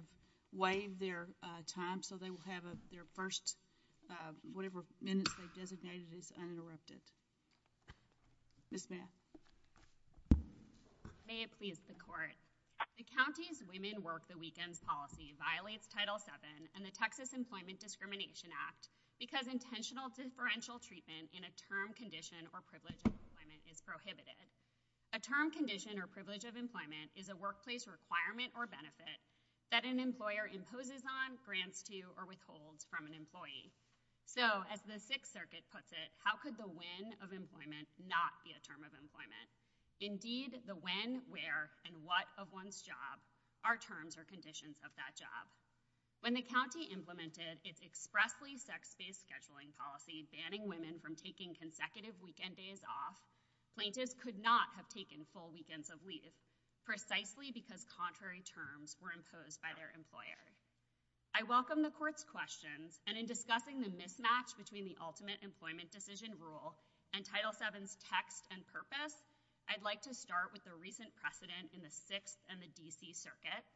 The County's Women Work the Weekend policy violates Title VII and the Texas Employment Discrimination Act because intentional differential treatment in a term, condition, or privilege of employment is prohibited. A term, condition, or privilege of employment is a workplace requirement or benefit that an employer imposes on, grants to, or withholds from an employee. So, as the Sixth Circuit puts it, how could the when of employment not be a term of employment? Indeed, the when, where, and what of one's job are terms or conditions of that job. When the County implemented its expressly sex-based scheduling policy banning women from taking consecutive weekend days off, plaintiffs could not have taken full weekends of leave, precisely because contrary terms were imposed by their employers. I welcome the Court's questions, and in discussing the mismatch between the ultimate employment decision rule and Title VII's text and purpose, I'd like to start with the recent precedent in the Sixth and the D.C. Circuits,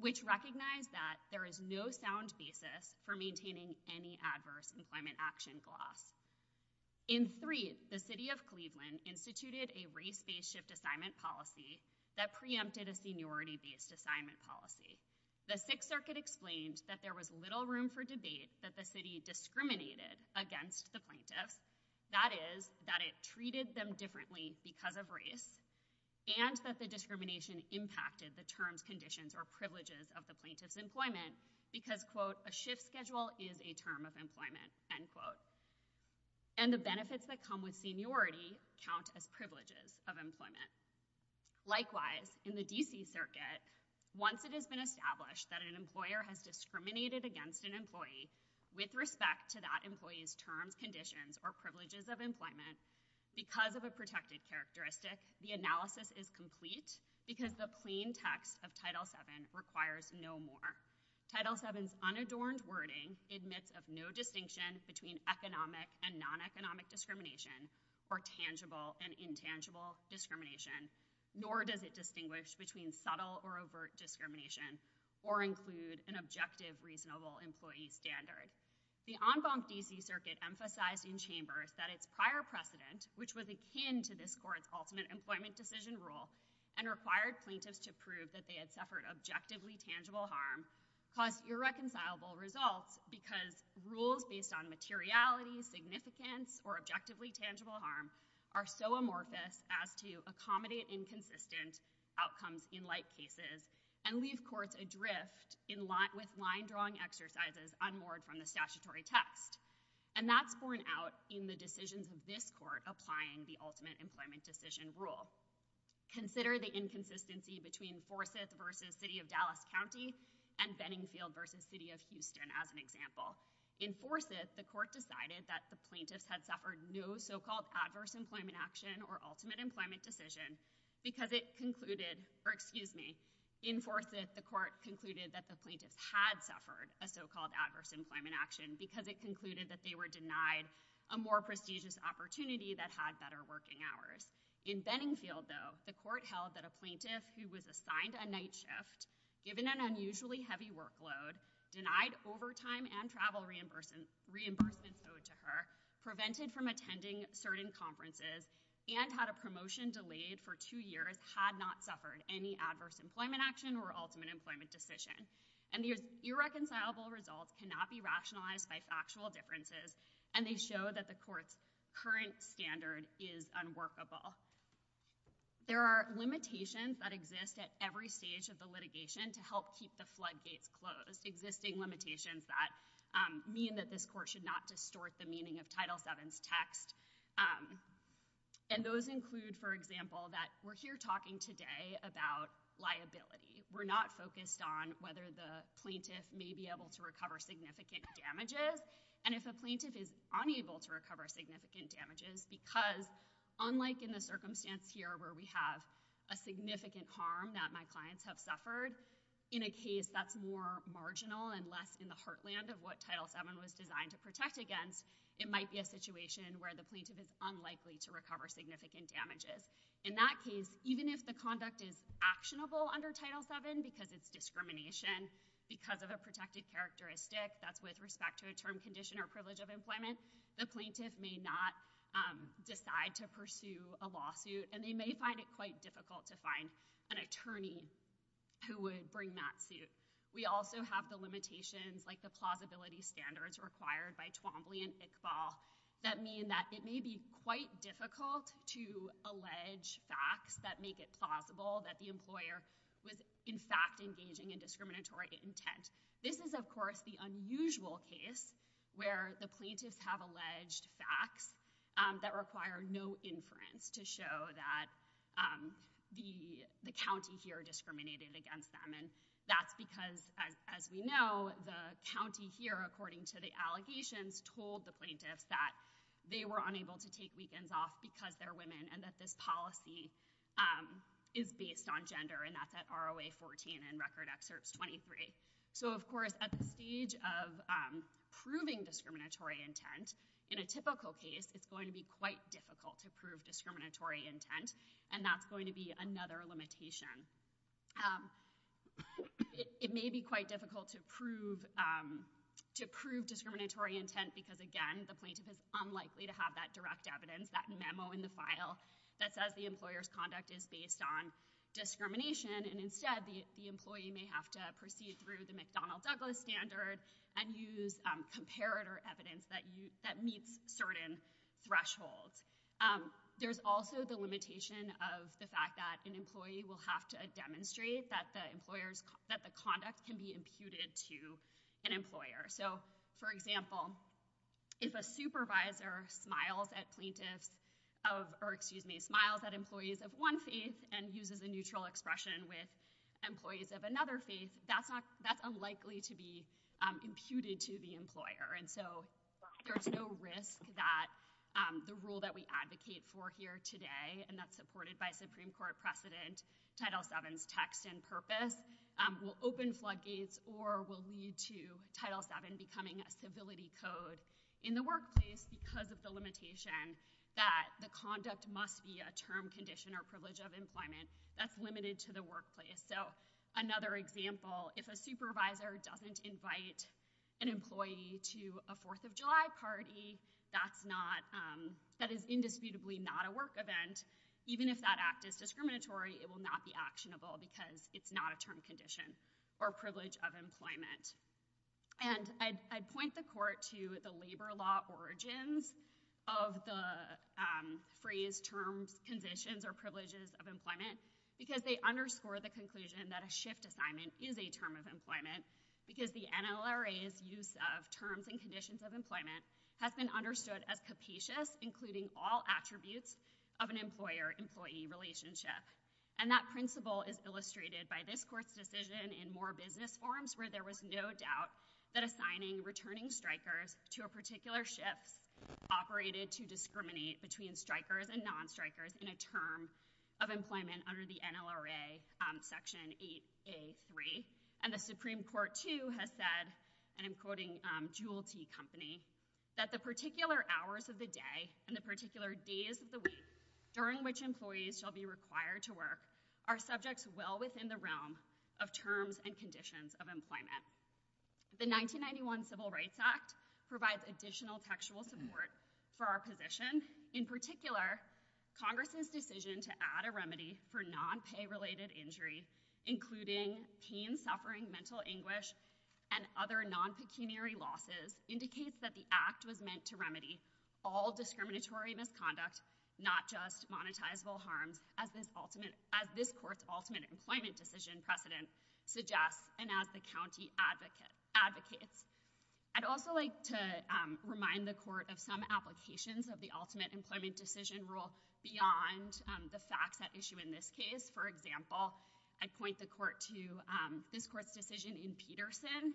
which recognize that there is no sound basis for In three, the City of Cleveland instituted a race-based shift assignment policy that preempted a seniority-based assignment policy. The Sixth Circuit explained that there was little room for debate that the City discriminated against the plaintiffs, that is, that it treated them differently because of race, and that the discrimination impacted the terms, conditions, or privileges of the plaintiff's employment because, quote, a shift schedule is a term of employment, end quote. And the benefits that come with seniority count as privileges of employment. Likewise, in the D.C. Circuit, once it has been established that an employer has discriminated against an employee with respect to that employee's terms, conditions, or privileges of employment, because of a protective characteristic, the analysis is complete because the plain text of Title VII requires no more. Title VII's unadorned wording admits of no distinction between economic and non-economic discrimination or tangible and intangible discrimination, nor does it distinguish between subtle or overt discrimination or include an objective reasonable employee standard. The en banc D.C. Circuit emphasized in chambers that its prior precedent, which was akin to this Court's ultimate employment decision rule, and required plaintiffs to prove that they had suffered objectively tangible harm caused irreconcilable results because rules based on materiality, significance, or objectively tangible harm are so amorphous as to accommodate inconsistent outcomes in like cases and leave courts adrift with line-drawing exercises unworn from the statutory text. And that's borne out in the decisions of this Court applying the ultimate employment decision rule. Consider the inconsistency between Forsys v. City of Dallas County and Benningfield v. City of Houston as an example. In Forsys, the Court decided that the plaintiff had suffered no so-called adverse employment action or ultimate employment decision because it concluded, or excuse me, in Forsys, the Court concluded that the plaintiff had suffered a so-called adverse employment action because it concluded that they were denied a more prestigious opportunity that had better working hours. In Benningfield, though, the Court held that a plaintiff who was assigned a night shift given an unusually heavy workload, denied overtime and travel reimburses owed to her, prevented from attending certain conferences, and had a promotion delayed for two years, had not suffered any adverse employment action or ultimate employment decision. And the irreconcilable results cannot be rationalized by factual differences, and they show that the Court's current standard is unworkable. There are limitations that exist at every stage of the litigation to help keep the flood gates closed, existing limitations that mean that this Court should not distort the meaning of Title VII's text. And those include, for example, that we're here talking today about liability. We're not focused on whether the plaintiff may be able to recover significant damages, and if a plaintiff is unable to recover significant damages because, unlike in the circumstance here where we have a significant harm that my clients have suffered, in a case that's more marginal and less in the heartland of what Title VII was designed to protect against, it might be a situation where the plaintiff is unlikely to recover significant damages. In that case, even if the conduct is actionable under Title VII, because it's discrimination, because of a protected characteristic that's with respect to a term condition or privilege of employment, the plaintiff may not decide to pursue a lawsuit, and they may find it quite difficult to find an attorney who would bring that suit. We also have the limitations, like the plausibility standards required by Twombly and Iqbal, that it may be quite difficult to allege facts that make it plausible that the employer was in fact engaging in discriminatory intent. This is, of course, the unusual case where the plaintiffs have alleged facts that require no inference to show that the county here discriminated against them. And that's because, as we know, the county here, according to the allegations, told the plaintiffs that they were unable to take weekends off because they're women and that this policy is based on gender, and that's at ROA 14 and Record Excerpt 23. So, of course, at the stage of proving discriminatory intent, in a typical case, it's going to be quite difficult to prove discriminatory intent, and that's going to be another limitation. It may be quite difficult to prove discriminatory intent because, again, the plaintiff is unlikely to have that direct evidence, that memo in the file that says the employer's conduct is based on discrimination, and instead, the employee may have to proceed through the McDonnell Douglas standards and use comparator evidence that meets certain thresholds. There's also the limitation of the fact that an employee will have to demonstrate that So, for example, if a supervisor smiles at employees of one face and uses a neutral expression with employees of another face, that's unlikely to be imputed to the employer. And so there's no risk that the rule that we advocate for here today, and that's supported by Supreme Court precedent, Title VII's text and purpose, will open floodgates or will lead to becoming a civility code in the workplace because of the limitation that the conduct must be a term condition or privilege of employment that's limited to the workplace. So, another example, if a supervisor doesn't invite an employee to a Fourth of July party, that's not, that is indisputably not a work event, even if that act is discriminatory, it will not be actionable because it's not a term condition or privilege of employment. And I point the court to the labor law origins of the phrase term conditions or privileges of employment because they underscore the conclusion that a shift assignment is a term of employment because the NLRA's use of terms and conditions of employment have been understood as capacious, including all attributes of an employer-employee relationship. And that principle is illustrated by this court's decision in more business forms where there was no doubt that assigning returning strikers to a particular shift operated to discriminate between strikers and non-strikers in a term of employment under the NLRA Section 8A3. And the Supreme Court, too, has said, and I'm quoting Jewel Tea Company, that the particular hours of the day and the particular days of the week during which employees shall be required to work are subjects well within the realm of terms and conditions of employment. The 1991 Civil Rights Act provides additional factual support for our position. In particular, Congress's decision to add a remedy for non-pay-related injuries, including teen suffering, mental anguish, and other non-continuary losses, indicates that the act was meant to remedy all discriminatory misconduct, not just monetizable harms, as this court's ultimate employment decision precedent suggests and as the county advocates. I'd also like to remind the court of some applications of the ultimate employment decision rule beyond the facts at issue in this case. For example, I point the court to this court's decision in Peterson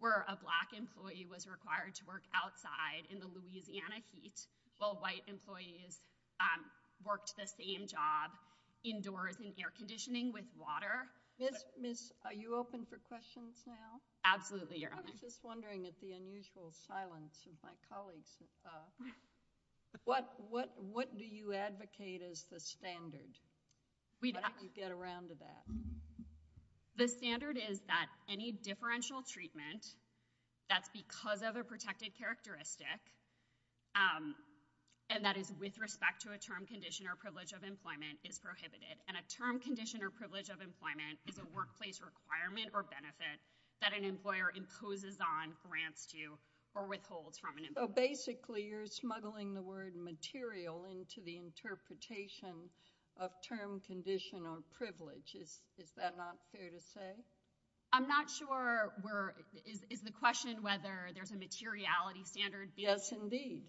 where a Black employee was required to work outside in the Louisiana heat while White employees worked the same job indoors in air conditioning with water. Miss, are you open for questions now? Absolutely, Your Honor. I'm just wondering at the unusual silence of my colleagues. What do you advocate as the standard? We'd have to get around to that. The standard is that any differential treatment that's because of a protected characteristic and that is with respect to a term condition or privilege of employment is prohibited, and a term condition or privilege of employment is a workplace requirement or benefit that an employer imposes on, grants to, or withholds from an employer. So basically, you're smuggling the word material into the interpretation of term, condition, or privilege. Is that not fair to say? I'm not sure. Is the question whether there's a materiality standard? Yes, indeed.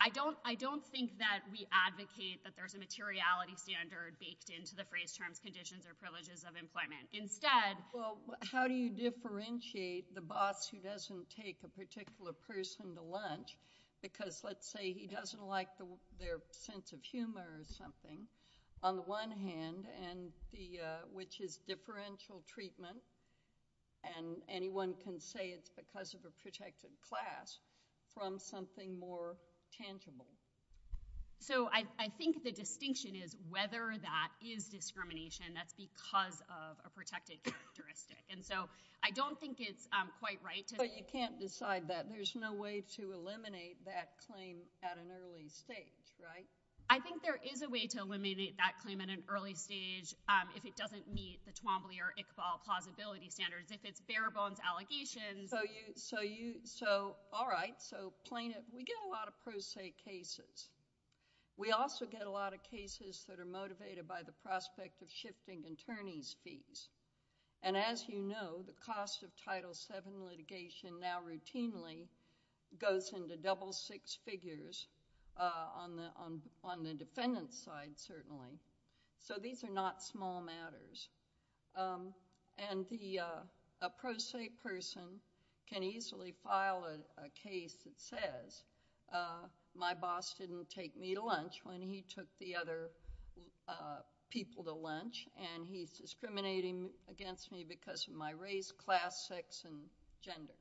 I don't think that we advocate that there's a materiality standard based into the phrase terms, conditions, or privileges of employment. Instead... Well, how do you differentiate the boss who doesn't take a particular person to lunch because, let's say, he doesn't like their sense of humor or something, on the one hand, which is differential treatment, and anyone can say it's because of a protected class, from something more tangible? So I think the distinction is whether that is discrimination that's because of a protected characteristic. And so I don't think it's quite right. But you can't decide that. There's no way to eliminate that claim at an early stage, right? I think there is a way to eliminate that claim at an early stage if it doesn't meet the Twombly or Iqbal plausibility standards. If it's bare bones allegations... So, all right. So plaintiff... We get a lot of pro se cases. We also get a lot of cases that are motivated by the prospect of shifting attorney's fees. And as you know, the cost of Title VII litigation now routinely goes into double six figures on the defendant's side, certainly. So these are not small matters. And a pro se person can easily file a case that says, my boss didn't take me to lunch when he took the other people to lunch, and he's discriminating against me because of my race, class, sex, and gender.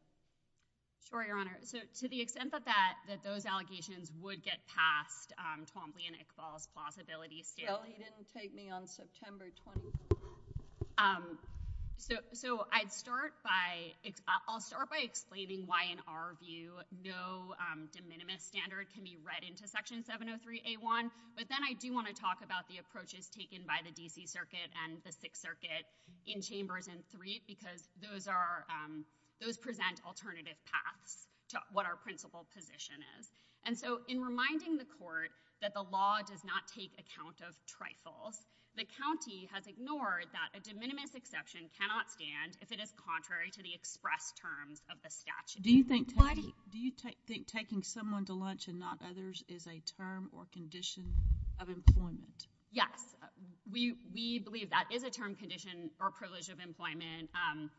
Sorry, Your Honor. To the extent that those allegations would get past Twombly and Iqbal's plausibility scale... No, he didn't take me on September 20th. So I'd start by... I'll start by explaining why, in our view, no de minimis standard can be read into Section 703A1. But then I do want to talk about the approaches taken by the D.C. Circuit and the Sixth Circuit in Chambers and Three, because those present alternative paths to what our principled position is. And so in reminding the court that the law does not take account of trifles, the county has ignored that a de minimis exception cannot stand if it is contrary to the express terms of the statute. Do you think taking someone to lunch and not others is a term or condition of employment? Yes. We believe that is a term, condition, or privilege of employment. And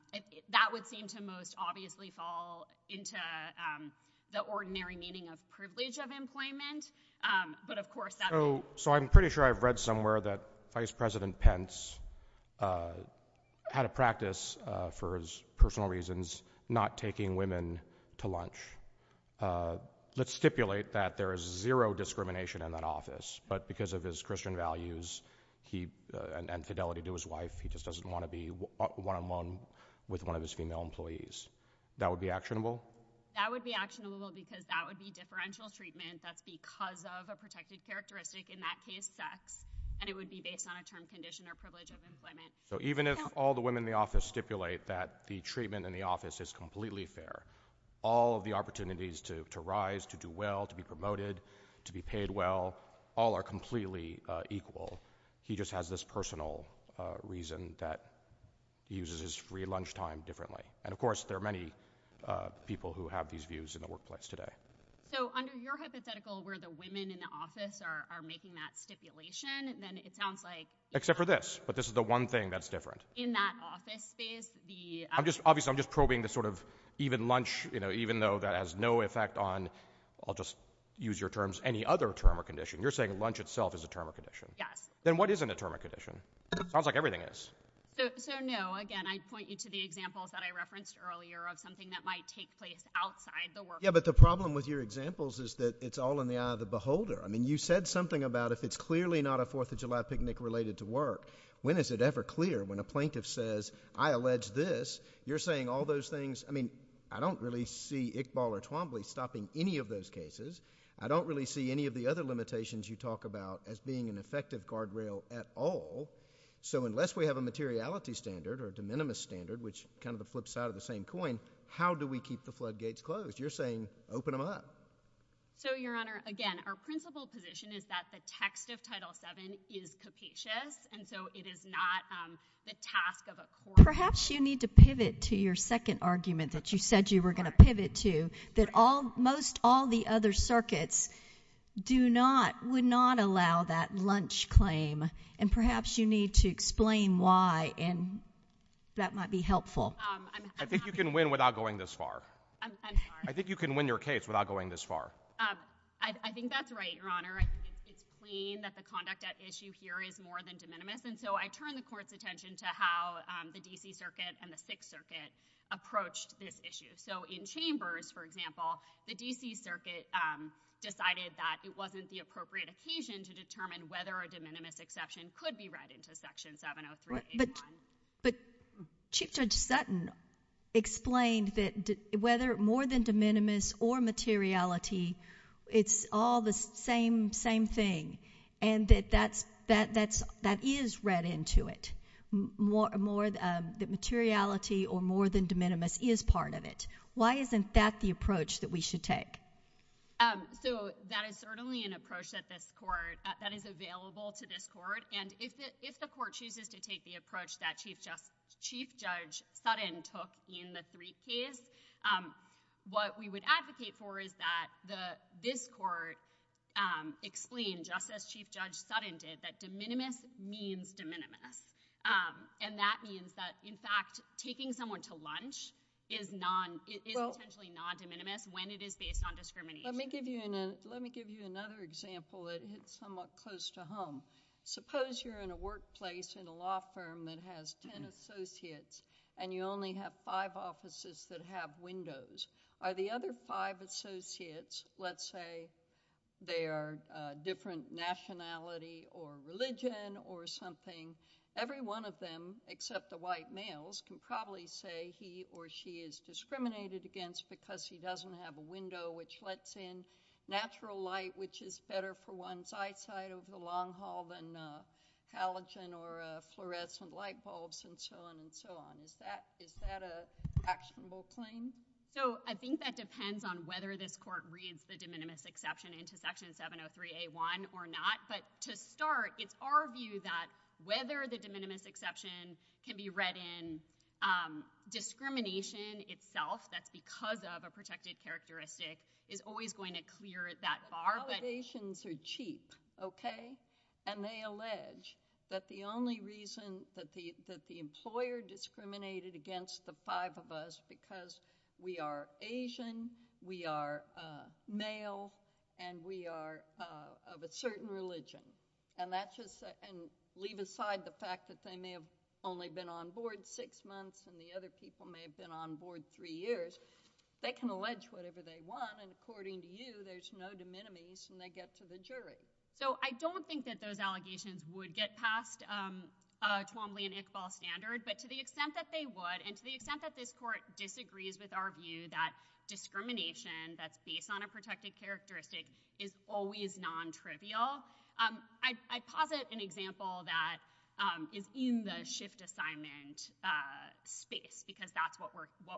that would seem to most obviously fall into the ordinary meaning of privilege of employment, but of course... So I'm pretty sure I've read somewhere that Vice President Pence had a practice, for his personal reasons, not taking women to lunch. Let's stipulate that there is zero discrimination in that office, but because of his Christian values and fidelity to his wife, he just doesn't want to be one-on-one with one of his female employees. That would be actionable? That would be actionable because that would be differential treatment. That's because of a protected characteristic, in that case, sex, and it would be based on a term, condition, or privilege of employment. So even if all the women in the office stipulate that the treatment in the office is completely fair, all of the opportunities to rise, to do well, to be promoted, to be paid well, all are completely equal. He just has this personal reason that he uses his free lunchtime differently. And of course, there are many people who have these views in the workplace today. So under your hypothetical, where the women in the office are making that stipulation, then it sounds like... Except for this, but this is the one thing that's different. In that office space, the... Obviously, I'm just probing this sort of even lunch, even though that has no effect on, I'll just use your terms, any other term or condition. You're saying lunch itself is a term or condition. Yes. Then what isn't a term or condition? It sounds like everything is. So no, again, I point you to the examples that I referenced earlier of something that might take place outside the workplace. Yeah, but the problem with your examples is that it's all in the eye of the beholder. I mean, you said something about if it's clearly not a 4th of July picnic related to work, when is it ever clear? When a plaintiff says, I allege this, you're saying all those things. I don't really see Iqbal or Twombly stopping any of those cases. I don't really see any of the other limitations you talk about as being an effective guardrail at all. So unless we have a materiality standard or a de minimis standard, which kind of the flip side of the same coin, how do we keep the floodgates closed? You're saying open them up. So Your Honor, again, our principle position is that the text of Title VII is capacious, and so it is not the task of a court. Perhaps you need to pivot to your second argument that you said you were going to pivot to, that most all the other circuits would not allow that lunch claim, and perhaps you need to explain why, and that might be helpful. I think you can win without going this far. I think you can win your case without going this far. I think that's right, Your Honor. It's clean that the conduct at issue here is more than de minimis, and so I turn the court's attention to how the D.C. Circuit and the 6th Circuit approached this issue. So in Chambers, for example, the D.C. Circuit decided that it wasn't the appropriate occasion to determine whether a de minimis exception could be read into Section 703. But Chief Judge Sutton explained that whether more than de minimis or materiality, it's all the same thing, and that that is read into it. That materiality or more than de minimis is part of it. Why isn't that the approach that we should take? So that is certainly an approach that is available to this Court, and if the Court chooses to take the approach that Chief Judge Sutton took in the Threat case, what we would this Court explain, just as Chief Judge Sutton did, that de minimis means de minimis, and that means that, in fact, taking someone to lunch is essentially non-de minimis when it is based on discrimination. Let me give you another example that hits somewhat close to home. Suppose you're in a workplace in a law firm that has 10 associates, and you only have five offices that have windows. Are the other five associates, let's say they are different nationality or religion or something, every one of them, except the white males, can probably say he or she is discriminated against because he doesn't have a window which lets in natural light, which is better for one's eyesight over the long haul than halogen or fluorescent light bulbs and so on and so forth. Is that an actionable claim? So I think that depends on whether this Court reads the de minimis exception into Section 703A1 or not, but to start, it's our view that whether the de minimis exception can be read in, discrimination itself that's because of a protected characteristic is always going to clear that bar. Allegations are cheap, okay, and they allege that the only reason that the employer discriminated against the five of us because we are Asian, we are male, and we are of a certain religion, and leave aside the fact that they may have only been on board six months and the other people may have been on board three years. They can allege whatever they want, and according to you, there's no de minimis when they get to the jury. So I don't think that those allegations would get past a Twombly and Iqbal standard, but to the extent that they would, and to the extent that this Court disagrees with our view that discrimination that's based on a protected characteristic is always non-trivial, I'd posit an example that is in the shift assignment space because that's what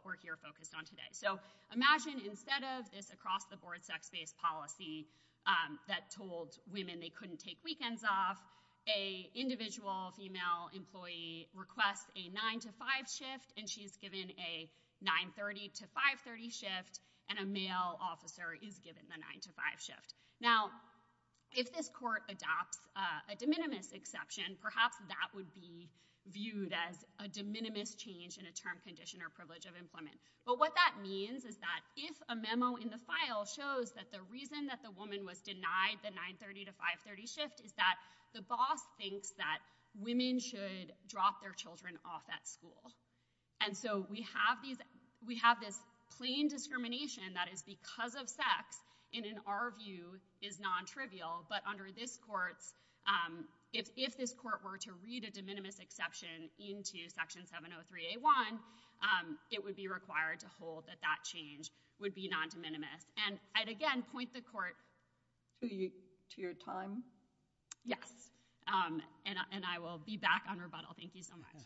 we're here focused on today. So imagine instead of this across-the-board sex-based policy that told women they couldn't take weekends off, an individual female employee requests a 9-to-5 shift and she's given a 930-to-530 shift and a male officer is given the 9-to-5 shift. Now if this Court adopts a de minimis exception, perhaps that would be viewed as a de minimis change in a term, condition, or privilege of employment. But what that means is that if a memo in the file shows that the reason that the woman was denied the 930-to-530 shift is that the boss thinks that women should drop their children off at school. And so we have this plain discrimination that is because of sex and in our view is non-trivial, but under this Court, if this Court were to read a de minimis exception into Section 703A1, it would be required to hold that that change would be non-de minimis. And I'd again point the Court to your time. Yes, and I will be back on rebuttal. Thank you so much.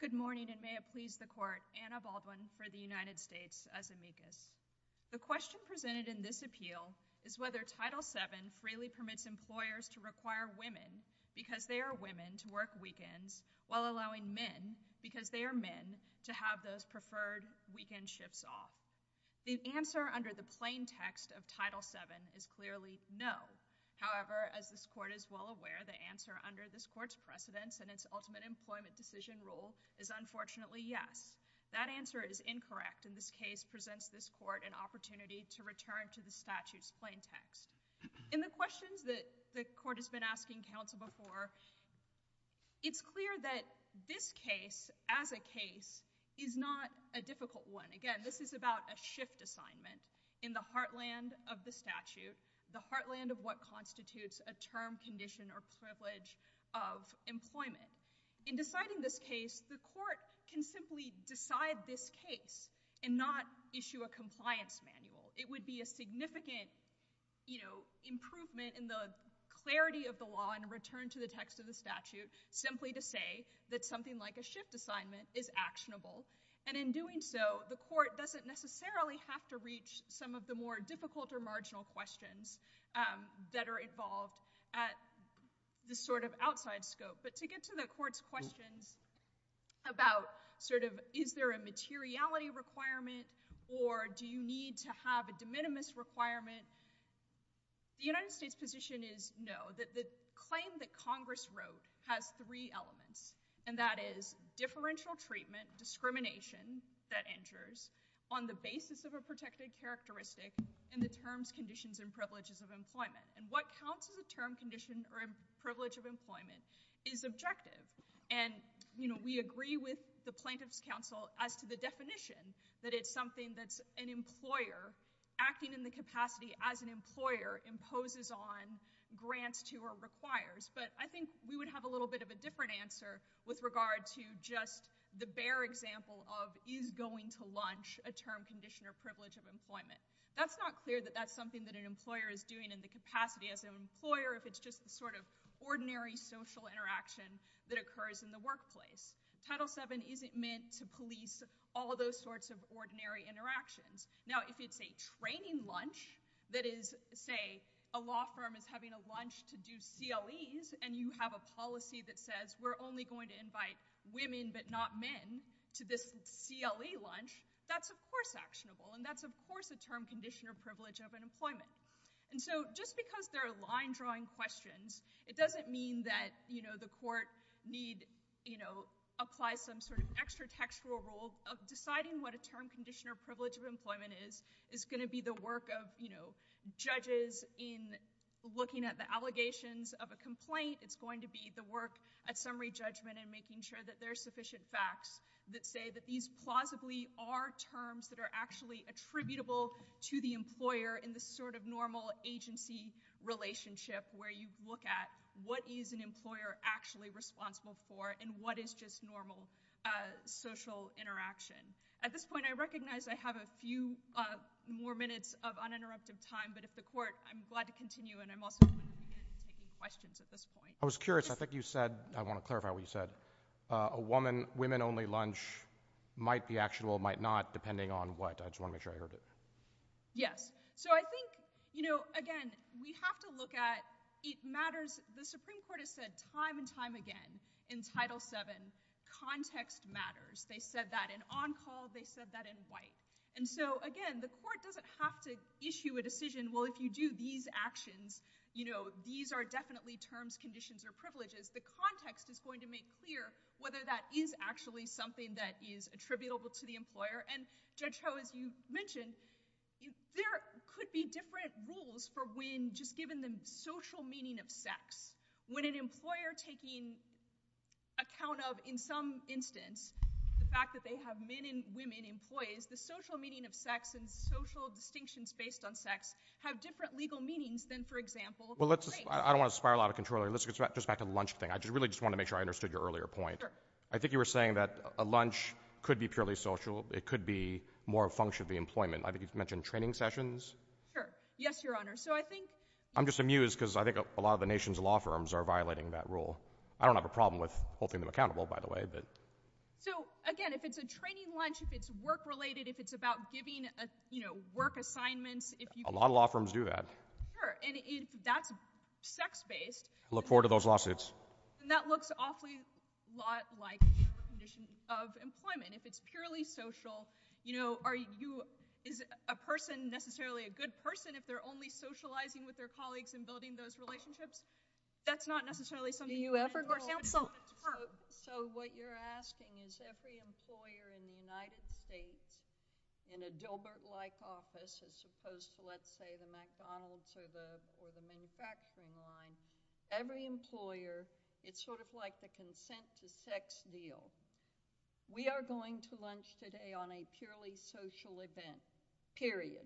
Good morning and may it please the Court, Anna Baldwin for the United States as amicus. The question presented in this appeal is whether Title VII freely permits employers to require women because they are women to work weekends while allowing men because they are men to have those preferred weekend shifts off. The answer under the plain text of Title VII is clearly no. However, as this Court is well aware, the answer under this Court's precedence and its ultimate employment decision rule is unfortunately yes. That answer is incorrect and this case presents this Court an opportunity to return to the statute's plain text. In the questions that this Court has been asking counsel before, it's clear that this case as a case is not a difficult one. Again, this is about a shift assignment in the heartland of the statute, the heartland of what constitutes a term, condition, or privilege of employment. In deciding this case, the Court can simply decide this case and not issue a compliance manual. It would be a significant, you know, improvement in the clarity of the law and return to the text of the statute simply to that something like a shift assignment is actionable. And in doing so, the Court doesn't necessarily have to reach some of the more difficult or marginal questions that are involved at the sort of outside scope. But to get to the Court's question about sort of is there a materiality requirement or do you need to have a de minimis requirement, the United States position is no. The claim that Congress wrote has three elements, and that is differential treatment, discrimination that injures on the basis of a protected characteristic in the terms, conditions, and privileges of employment. And what counsel's term, conditions, or privilege of employment is objective. And, you know, we agree with the plaintiff's counsel as to the definition that it's something that an employer acting in the capacity as an employer imposes on grants to or requires. But I think we would have a little bit of a different answer with regard to just the bare example of is going to lunch a term, condition, or privilege of employment. That's not clear that that's something that an employer is doing in the capacity of an employer if it's just sort of ordinary social interaction that occurs in the workplace. Title VII isn't meant to police all those sorts of ordinary interactions. Now, if it's a training lunch that is, say, a law firm is having a lunch to do CLEs and you have a policy that says we're only going to invite women but not men to this CLE lunch, that's, of course, actionable. And that's, of course, a term, condition, or privilege of employment. And so just because they're line-drawing questions, it doesn't mean that, you know, the court need, you know, apply some sort of extra textual rules of deciding what a term, condition, or privilege of employment is. It's going to be the work of, you know, judges in looking at the allegations of a complaint. It's going to be the work of summary judgment in making sure that there's sufficient facts that say that these plausibly are terms that are actually attributable to the employer in the sort of normal agency relationship where you look at what is an employer actually responsible for and what is just normal social interaction. At this point, I recognize I have a few more minutes of uninterrupted time, but if the court, I'm glad to continue, and I'm also happy to take questions at this point. I was curious. I think you said, I want to clarify what you said, a women-only lunch might be actionable, might not, depending on what. I just want to make sure I heard it. Yes, so I think, you know, again, we have to look at, it matters, the Supreme Court has said time and time again in Title VII, context matters. They said that in on-call, they said that in white, and so, again, the court doesn't have to issue a decision, well, if you do these actions, you know, these are definitely terms, conditions, or privileges. The context is going to make clear whether that is actually something that is attributable to the employer, and Judge Ho, as you mentioned, there could be different rules for when, just given the social meaning of sex, when an employer taking account of, in some instance, the fact that they have men and women employees, the social meaning of sex and social distinctions based on sex have different legal meanings than, for example, the same thing. Well, let's, I don't want to spiral out of control here. Let's get back to the lunch thing. I really just want to make sure I understood your earlier point. I think you were saying that a lunch could be purely social. It could be more functionally employment. I think you mentioned training sessions. Sure. Yes, Your Honor. So, I think... I'm just amused because I think a lot of the nation's law firms are violating that rule. I don't have a problem with holding them accountable, by the way, but... So, again, if it's a training lunch, if it's work-related, if it's about giving, you know, work assignments, if you... A lot of law firms do that. Sure, and if that's sex-based... Look forward to those lawsuits. And that looks awfully a lot like conditions of employment. If it's purely social, you know, are you... Is a person necessarily a good person if they're only socializing with their colleagues and building those relationships? That's not necessarily... So, what you're asking is every employer in the United States, in a Dilbert-like office, as opposed to, let's say, the McDonald's or the manufacturing line, every employer, it's sort of like the consent-to-sex deal. We are going to lunch today on a purely social event, period.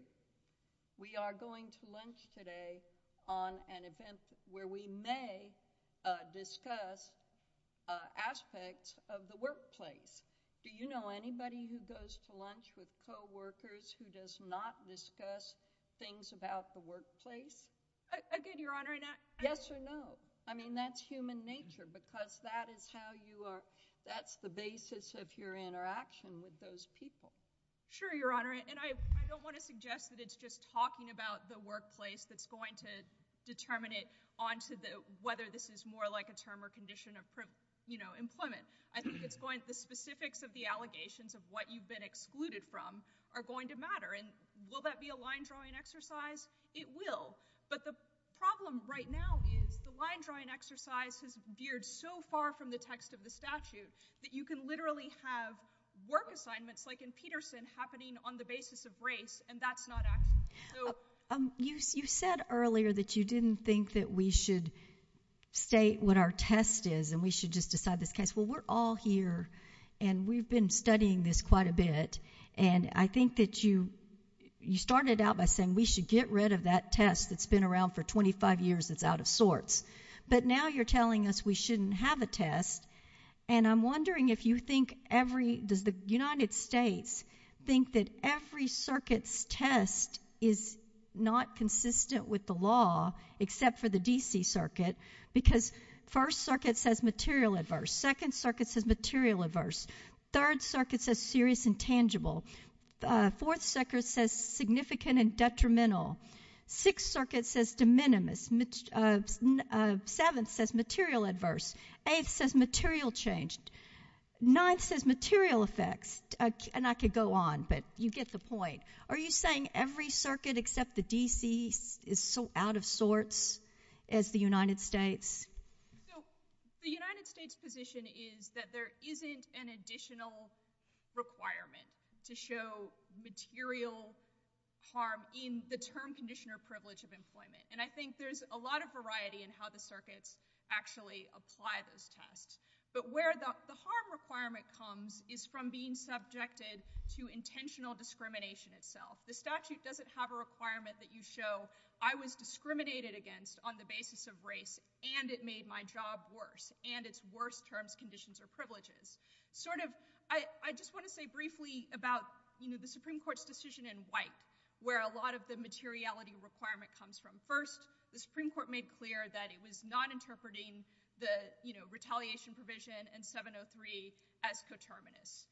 We are going to lunch today on an event where we may discuss aspects of the workplace. Do you know anybody who goes to lunch with co-workers who does not discuss things about the workplace? I do, Your Honor, and I... Yes or no? I mean, that's human nature because that is how you are... That's the basis of your interaction with those people. Sure, Your Honor, and I don't want to suggest that it's just talking about the workplace that's going to determine it onto the... Whether this is more like a term or condition of, you know, employment. I think it's going to... The specifics of the allegations of what you've been excluded from are going to matter, and will that be a line-drawing exercise? It will, but the problem right now is the line-drawing exercise has veered so far from the text of the statute that you can literally have work assignments like in Peterson happening on the basis of race, and that's not accurate. You said earlier that you didn't think that we should state what our test is and we should just decide this case. Well, we're all here, and we've been studying this quite a bit, and I think that you... You started out by saying we should get rid of that test that's been around for 25 years. It's out of sorts, but now you're telling us we shouldn't have a test, and I'm wondering if you think every... Does the United States think that every circuit's test is not consistent with the law except for the D.C. Third circuit says serious and tangible. Fourth circuit says significant and detrimental. Sixth circuit says de minimis. Seventh says material adverse. Eighth says material changed. Ninth says material effects, and I could go on, but you get the point. Are you saying every circuit except the additional requirement to show material harm in the term, condition, or privilege of employment, and I think there's a lot of variety in how the circuits actually apply those tests, but where the harm requirement comes is from being subjected to intentional discrimination itself. The statute doesn't have a requirement that you show I was discriminated against on the basis of privileges. I just want to say briefly about the Supreme Court's decision in White where a lot of the materiality requirement comes from. First, the Supreme Court made clear that it was not interpreting the retaliation provision in 703 as determinants.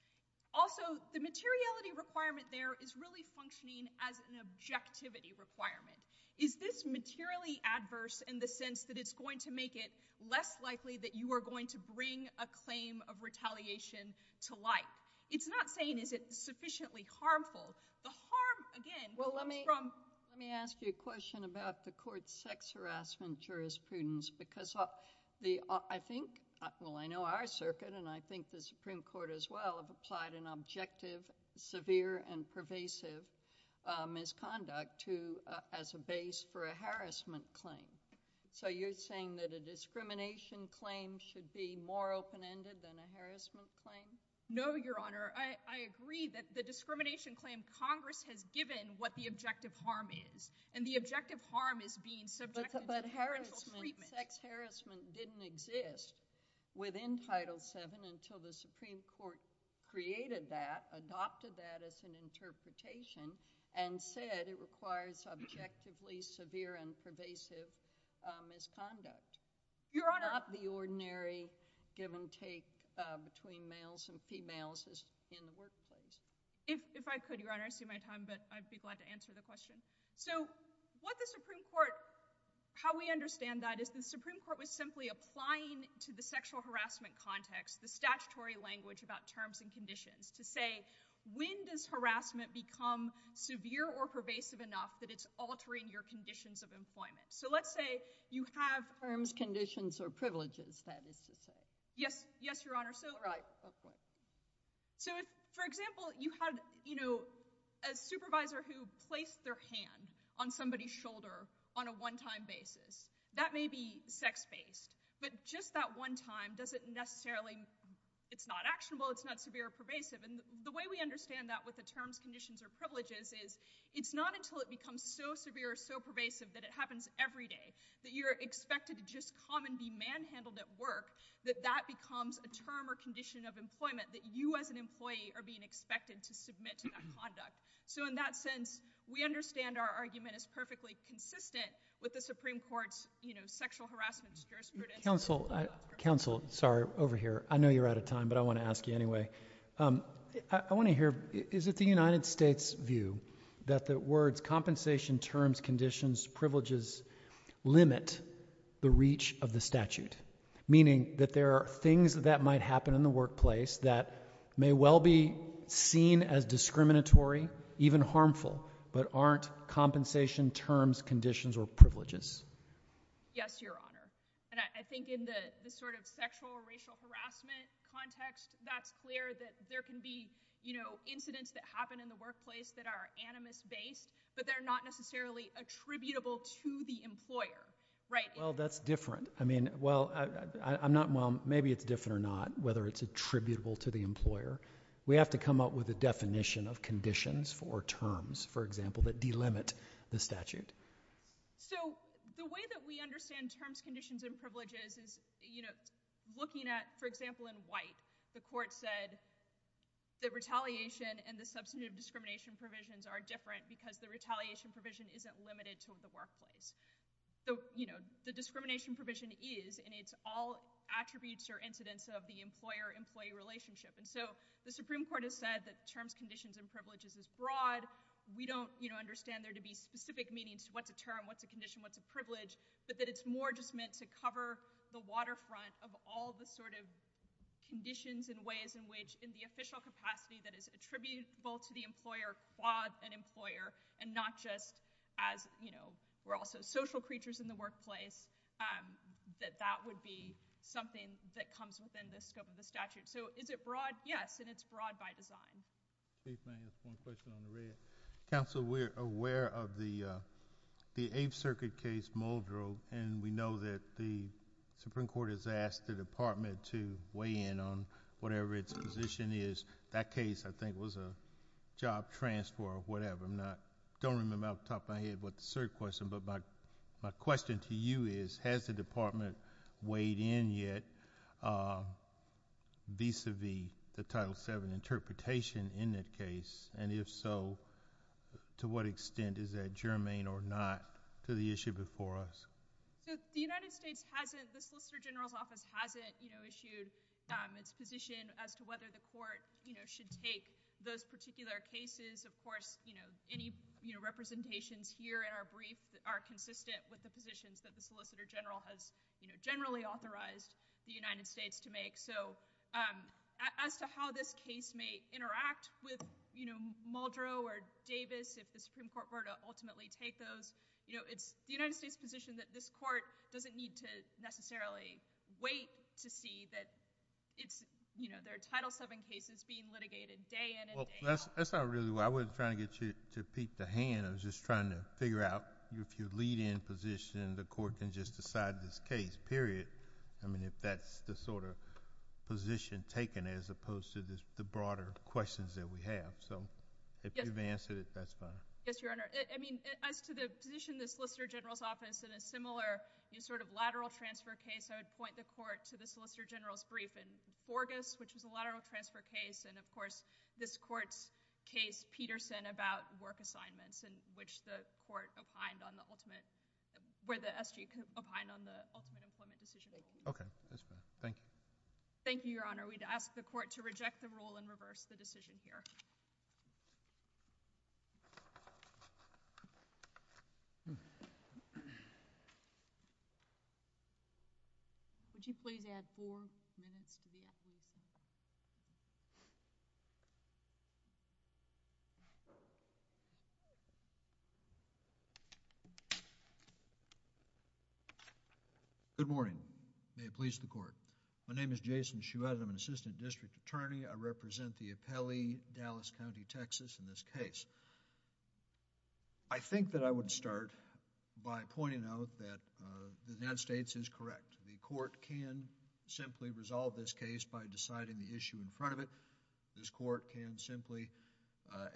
Also, the materiality requirement there is really functioning as an objectivity requirement. Is this materially adverse in the retaliation to life? It's not saying is it sufficiently harmful. The harm, again, comes from- Well, let me ask you a question about the court's sex harassment jurisprudence because I think, well, I know our circuit, and I think the Supreme Court as well, have applied an objective, severe, and pervasive misconduct as a base for a harassment claim. So you're saying that a harassment claim? No, Your Honor. I agree that the discrimination claim Congress has given what the objective harm is, and the objective harm is being subjected- But harassment, sex harassment didn't exist within Title VII until the Supreme Court created that, adopted that as an interpretation, and said it requires objectively severe and pervasive misconduct. Your Honor- Not the ordinary given cake between males and females is in the workplace. If I could, Your Honor, I see my time, but I'd be glad to answer the question. So what the Supreme Court, how we understand that is the Supreme Court was simply applying to the sexual harassment context the statutory language about terms and conditions to say, when does harassment become severe or pervasive enough that it's altering your conditions of employment? So let's say you have- Terms, conditions, or privileges, that is to say. Yes, Your Honor, so- Right, of course. So for example, you have, you know, a supervisor who placed their hand on somebody's shoulder on a one-time basis. That may be sex-based, but just that one time, does it necessarily- It's not actionable, it's not severe or pervasive, and the way we understand that with the terms, conditions, or privileges is it's not until it becomes so severe, so pervasive, that it happens every day, that you're expected to just come and be manhandled at work, that that becomes a term or condition of employment, that you as an employee are being expected to submit to that conduct. So in that sense, we understand our argument is perfectly consistent with the Supreme Court's, you know, sexual harassment jurisdiction. Counsel, counsel, sorry, over here. I know you're out of time, but I want to ask you anyway. I want to hear, is it the United States' view that the words compensation, terms, conditions, privileges limit the reach of the statute? Meaning that there are things that might happen in the workplace that may well be seen as discriminatory, even harmful, but aren't compensation, terms, conditions, or privileges? Yes, Your Honor. And I think in the sort of sexual or racial harassment context, that's clear that there can be, you know, incidents that happen in the workplace that are animus-based, but they're not necessarily attributable to the employer, right? Well, that's different. I mean, well, I'm not, well, maybe it's different or not, whether it's attributable to the employer. We have to come up with a definition of conditions or terms, for example, that delimit the statute. So the way that we understand terms, conditions, and privileges is, you know, looking at, for example, in White, the Court said that retaliation and the substantive discrimination provisions are different because the retaliation provision isn't limited to the workplace. So, you know, the discrimination provision is, and it's all attributes or incidents of the employer-employee relationship. And so the Supreme Court has said that terms, conditions, and privileges is broad. We don't, you know, understand there to be specific meanings to what the term, what the condition, what the privilege, but that it's more just meant to cover the waterfront of all the sort of conditions and in the official capacity that is attributable to the employer, quads and employer, and not just as, you know, we're also social creatures in the workplace, that that would be something that comes within the scope of the statute. So is it broad? Yes, and it's broad by design. Counsel, we're aware of the Eighth Circuit case, Muldrow, and we know that the Supreme Court has that case I think was a job transfer or whatever. I'm not, don't remember off the top of my head what the third question, but my question to you is, has the Department weighed in yet vis-a-vis the Title VII interpretation in this case? And if so, to what extent is that germane or not to the issue before us? The United States hasn't, the Solicitor General's Office hasn't, you know, issued a position as to whether the court, you know, should take those particular cases. Of course, you know, any, you know, representations here in our briefs are consistent with the positions that the Solicitor General has, you know, generally authorized the United States to make. So as to how this case may interact with, you know, Muldrow or Davis, if the Supreme Court were to ultimately take those, you know, it's the United States position that this court doesn't need to necessarily wait to see that it's, you know, there are Title VII cases being litigated day in and day out. Well, that's not really what I was trying to get you to peep the hand. I was just trying to figure out if your lead-in position, the court can just decide this case, period. I mean, if that's the sort of position taken as opposed to this, the broader questions that we have. So if you've answered it, that's fine. Yes, Your Honor. I mean, as to the position of the Solicitor General's office in a similar sort of lateral transfer case, I would point the court to the Solicitor General's brief in August, which was a lateral transfer case, and of course, this court's case, Peterson, about work assignments in which the court opined on the ultimate, where the S.G. opined on the ultimate employment situation. Okay. Thank you. Thank you, Your Honor. We'd ask the court to reject the rule and reverse the decision here. Would you please add four minutes to the Good morning. May it please the court. My name is Jason Chouette. I'm an Assistant District Attorney. I represent the appellee, Dallas County, Texas, in this case. I think that I would start by pointing out that the United States is correct. The court can simply resolve this case by deciding the issue in front of it. This court can simply,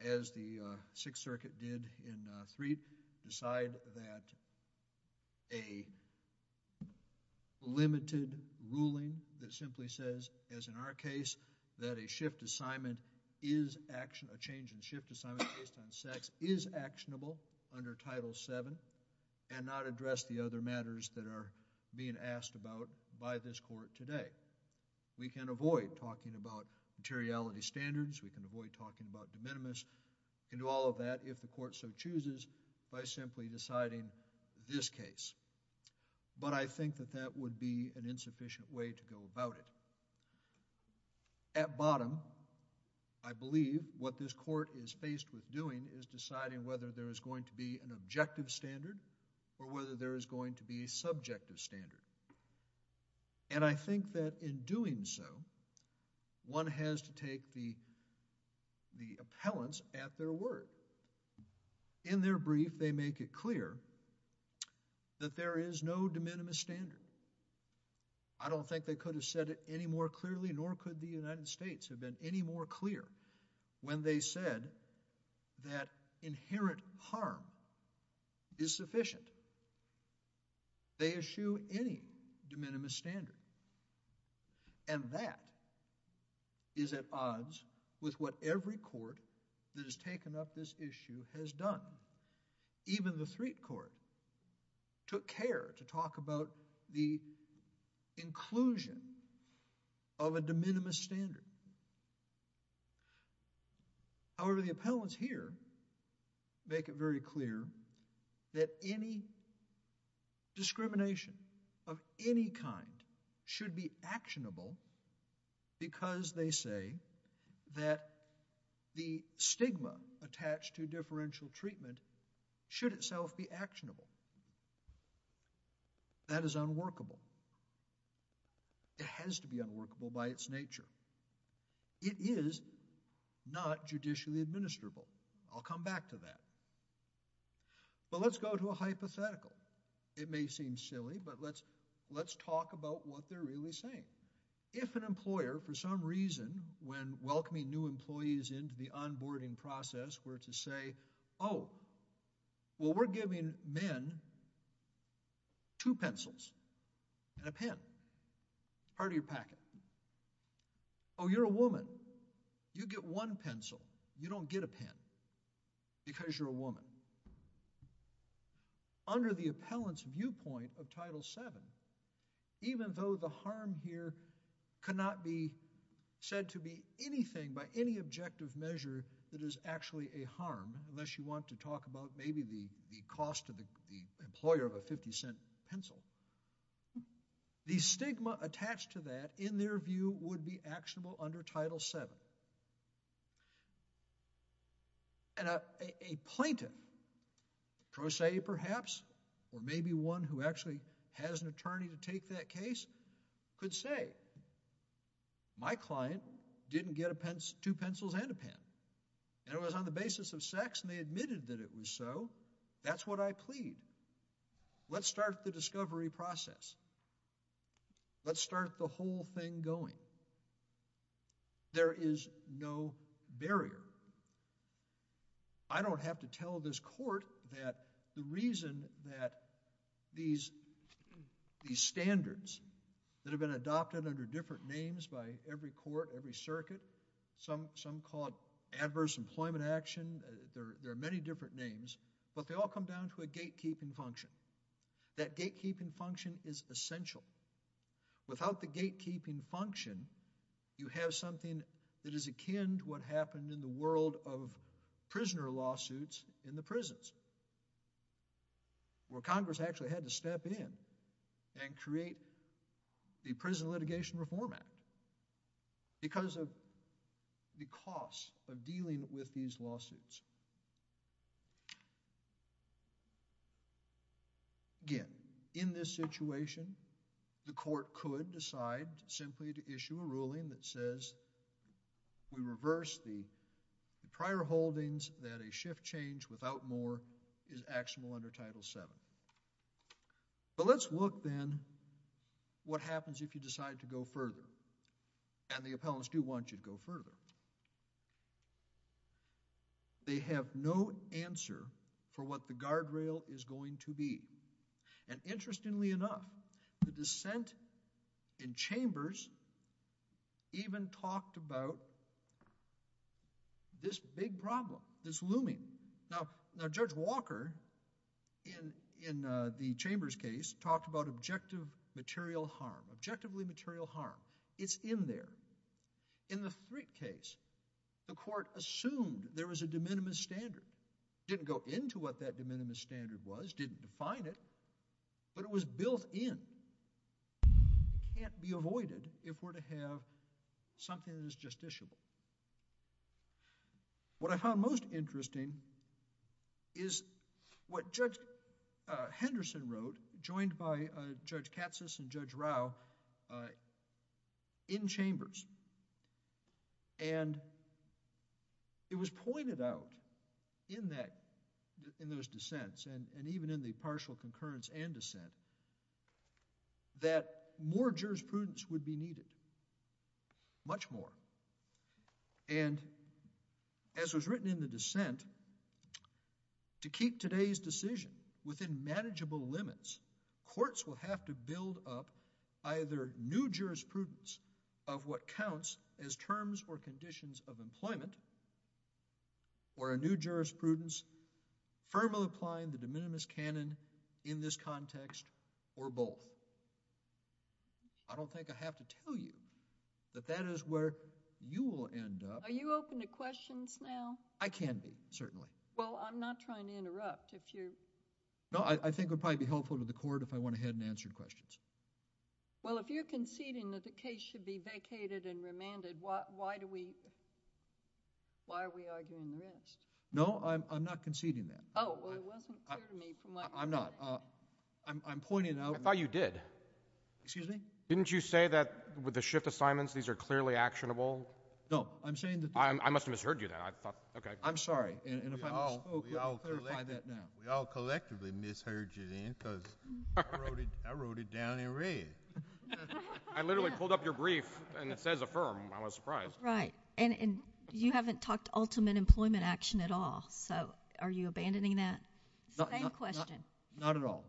as the Sixth Circuit did in Freed, decide that a limited ruling that simply says, as in our case, that a shift assignment is action, a change in shift assignment based on sex, is actionable under Title VII and not address the other matters that are being asked about by this court today. We can avoid talking about materiality standards. We can avoid talking about de minimis and all of that if the court so chooses by simply deciding this case. But I think that that would be an insufficient way to go about it. At bottom, I believe what this court is faced with doing is deciding whether there is going to be an objective standard or whether there is going to be a subjective standard. And I think that in doing so, one has to take the appellants at their word. In their brief, they make it clear that there is no de minimis standard. I don't think they could have said it any more clearly, nor could the United States have been any more clear when they said that inherent harm is sufficient. They eschew any de minimis standard. And that is at odds with what every court that has taken up this issue has done. Even the Threat Court took care to talk about the inclusion of a de minimis standard. However, the appellants here make it very clear that any discrimination of any kind should be actionable because they say that the stigma attached to differential treatment should itself be actionable. That is unworkable. It has to be unworkable by its nature. It is not judicially administrable. I'll come back to that. But let's go to a hypothetical. It may seem silly, but let's talk about what they're really saying. If an employer, for some reason, when welcoming new employees into the onboarding process, were to say, oh, well, we're giving men two pencils and a pen, part of your packet. Oh, you're a woman. You get one pencil. You don't get a pen because you're a woman. Under the appellant's viewpoint of Title VII, even though the harm here cannot be said to be anything by any objective measure that is actually a harm, unless you want to talk about maybe the cost to the employer of a 50-cent pencil, the stigma attached to that, in their view, would be actionable under Title VII. And a plaintiff, trose, perhaps, or maybe one who actually has an attorney to take that case, could say, my client didn't get two pencils and a pen. It was on the basis of sex, and they admitted that it was so. That's what I plead. Let's start the discovery process. Let's start the whole thing going. There is no barrier. I don't have to tell this court that the reason that these standards that have been adopted under different names by every court, every circuit, some call it adverse employment action, there are many different names, but they all come down to gatekeeping function. That gatekeeping function is essential. Without the gatekeeping function, you have something that is akin to what happened in the world of prisoner lawsuits in the prisons, where Congress actually had to step in and create the Prison Litigation Reform Act because of the cost of dealing with these lawsuits. Again, in this situation, the court could decide simply to issue a ruling that says we reverse the prior holdings that a shift change without more is actionable under Title VII. But let's look then what happens if you decide to go further, and the appellants do want you to go further. They have no answer for what the guardrail is going to be, and interestingly enough, the dissent in chambers even talked about this big problem, this looming. Now, Judge Walker, in the Chambers case, talked about objective material harm, objectively material harm. It's in there. In the Frick case, the court assumed there was a de minimis standard. Didn't go into what that de minimis standard was, didn't define it, but it was built in. Can't be avoided if we're to have something that's justiciable. What I found most interesting is what Judge Henderson wrote, joined by Judge Katzus and Judge Rao in Chambers, and it was pointed out in that, in those dissents, and even in the partial concurrence and dissent, that more jurisprudence would be needed, much more. And as was written in the dissent, to keep today's decision within manageable limits, courts will have to build up either new jurisprudence of what counts as terms or conditions of employment, or a new jurisprudence firmly applying the de minimis canon in this case. Are you open to questions now? I can be, certainly. Well, I'm not trying to interrupt. No, I think it would probably be helpful to the court if I went ahead and answered questions. Well, if you're conceding that the case should be vacated and remanded, why are we arguing this? No, I'm not conceding that. Oh, well, there wasn't clear need for my comment. I'm not. I'm pointing out... I thought you did. Excuse me? Didn't you say that with the shift assignments, these are clearly actionable? No, I'm saying that... I must have misheard you there. Okay. I'm sorry. We all collectively misheard you there because I wrote it down and read it. I literally pulled up your brief and it says affirm. I was surprised. Right. And you haven't talked ultimate employment action at all. So are you abandoning that same question? Not at all.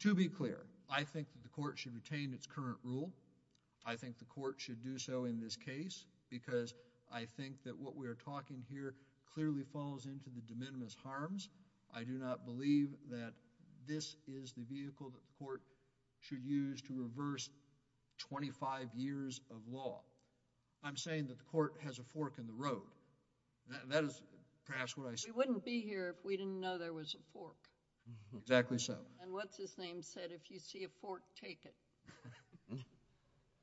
To be clear, I think the court should retain its current rule. I think the court should do so in this case because I think that what we are talking here clearly falls into the de minimis harms. I do not believe that this is the vehicle that the court should use to reverse 25 years of law. I'm saying that the court has a fork in the road. That is perhaps what I said. We wouldn't be here if we didn't know there was a fork. Exactly so. And what's the thing that if you see a fork, take it.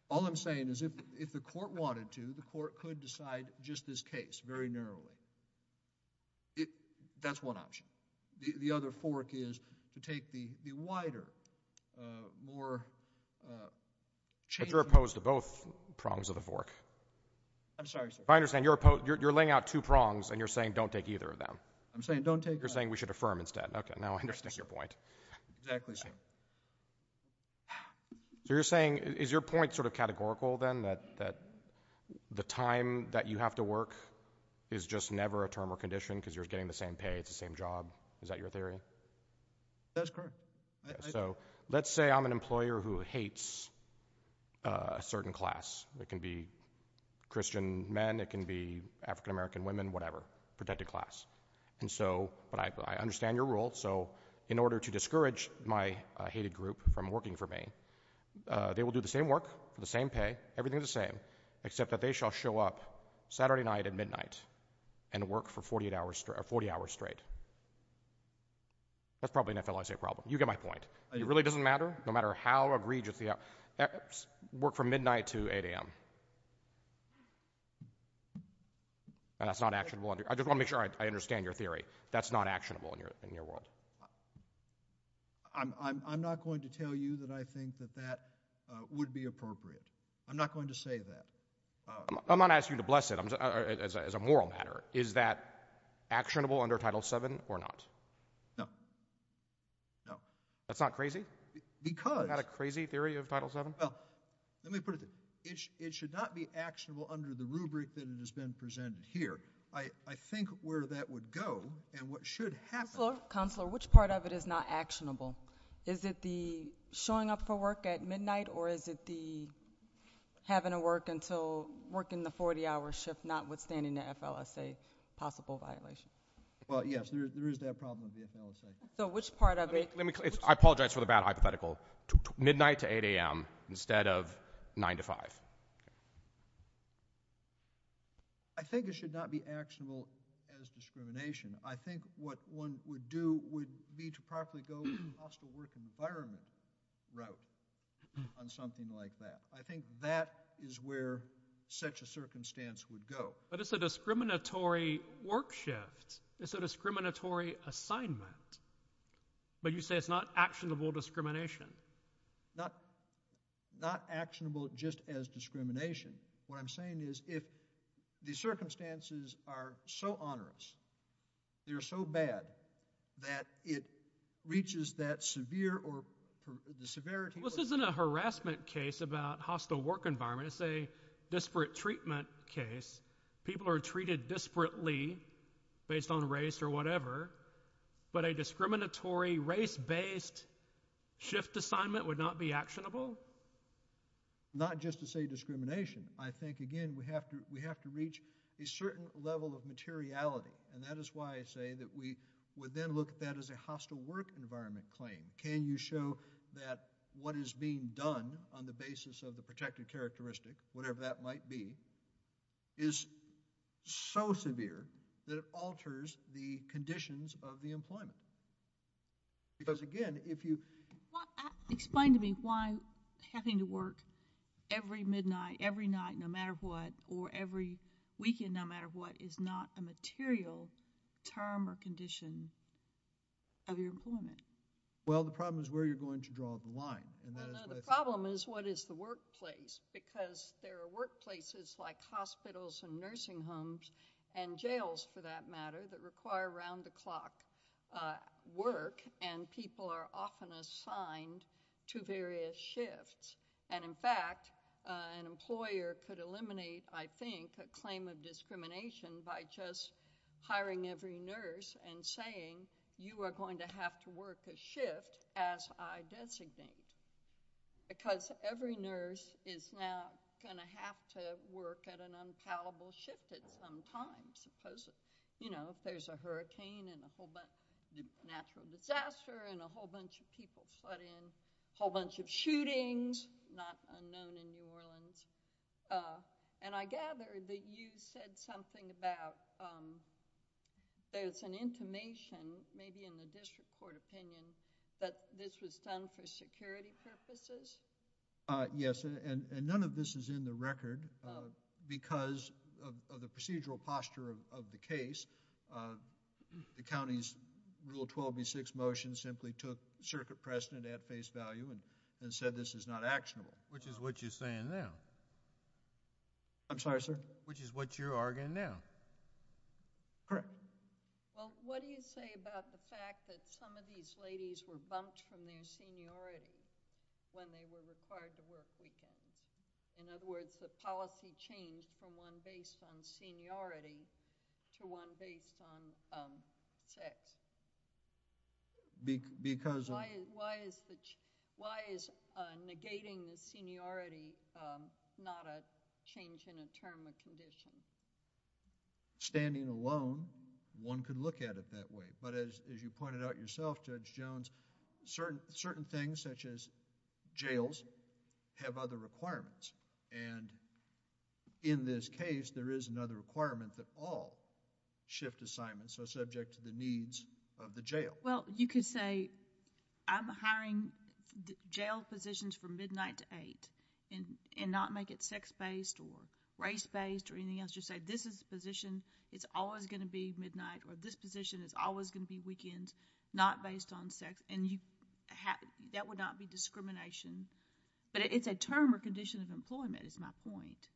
All I'm saying is if the court wanted to, the court could decide just this case very narrowly. That's one option. The other fork is to take the wider, more... You're opposed to both prongs of the fork. I'm sorry, sir. I understand you're laying out two prongs and you're saying don't take either of them. I'm saying don't take... You're saying we should affirm instead. Okay, now I understand your point. Exactly so. You're saying, is your point sort of categorical then that the time that you have to work is just never a term or condition because you're getting the same pay at the same job? Is that your theory? That's correct. So let's say I'm an employer who hates a certain class. It can be Christian men, it can be African-American women, whatever, protected class. And so, but I understand your rule. So in order to discourage my hated group from working for me, they will do the same work, the same pay, everything the same, except that they shall show up Saturday night at midnight and work for 40 hours straight. That's probably an FLSA problem. You get my point. It really doesn't matter. No matter how egregious, work from midnight to 8 a.m. That's not actionable. I just want to make sure I understand your theory. That's not actionable in your world. I'm not going to tell you that I think that that would be appropriate. I'm not going to say that. I'm not asking you to bless it as a moral matter. Is that actionable under Title VII or not? No. No. That's not crazy? Because... Is that a crazy theory of Title VII? Well, let me put it this way. It should not be actionable under the rubric that has been presented here. I think where that would go and what should happen... Counselor, which part of it is not actionable? Is it the showing up for work at midnight? Or is it the having to work until working the 40-hour shift, notwithstanding the FLSA possible violations? Well, yes, there is that problem with the FLSA. So which part of it... I apologize for the bad hypothetical. Midnight to 8 a.m. instead of 9 to 5. I think it should not be actionable as discrimination. I think what one would do would be to properly go to the hospital work environment route on something like that. I think that is where such a circumstance would go. But it's a discriminatory work shift. It's a discriminatory assignment. But you say it's not actionable discrimination. Not actionable just as discrimination. What I'm saying is if the circumstances are so onerous, they're so bad that it reaches that severe or the severity... This isn't a harassment case about hospital work environment. It's a disparate treatment case. People are treated disparately based on race or whatever. But a discriminatory race-based shift assignment would not be actionable? Not just to say discrimination. I think, again, we have to reach a certain level of materiality. And that is why I say that we would then look at that as a hospital work environment claim. Can you show that what is being done on the basis of the protective characteristic, whatever that might be, is so severe that it alters the conditions of the employment? Because, again, if you... Explain to me why having to work every midnight, every night, no matter what, or every weekend, no matter what, is not a material term or condition of your employment. Well, the problem is where you're going to draw the line. And the problem is what is the workplace? Because there are workplaces like hospitals and nursing homes and jails, for that matter, that require around-the-clock work. And people are often assigned to various shifts. And in fact, an employer could eliminate, I think, a claim of discrimination by just hiring every nurse and saying, you are going to have to work a shift as I designated. Because every nurse is now going to have to work at an uncallable shift at some time. Because, you know, if there's a hurricane and a whole bunch of natural disaster and a whole bunch of people put in, a whole bunch of shootings, not unknown in New Orleans. And I gather that you said something about, there's an information, maybe in the district court opinion, that this was done for security purposes? Yes, and none of this is in the record because of the procedural posture of the case. The county's Rule 12B6 motion simply took circuit precedent at face value and said this is not actionable. Which is what you're saying now. I'm sorry, sir? Which is what you're arguing now. Correct. Well, what do you say about the fact that some of these ladies were bumped from their seniority when they were required to work weekends? In other words, the policy changed from one based on seniority to one based on sex. Because... Why is negating seniority not a change in a term or condition? Standing alone, one could look at it that way. But as you pointed out yourself, Judge Jones, certain things, such as jails, have other requirements. And in this case, there is another requirement that all shift assignments are subject to the needs of the jail. Well, you could say I'm hiring jail physicians from midnight to eight and not make it sex-based or race-based or anything else. Just say this position is always going to be midnight or this position is always going to be weekends, not based on sex. And that would not be discrimination. But it's a term or condition of employment, is my point.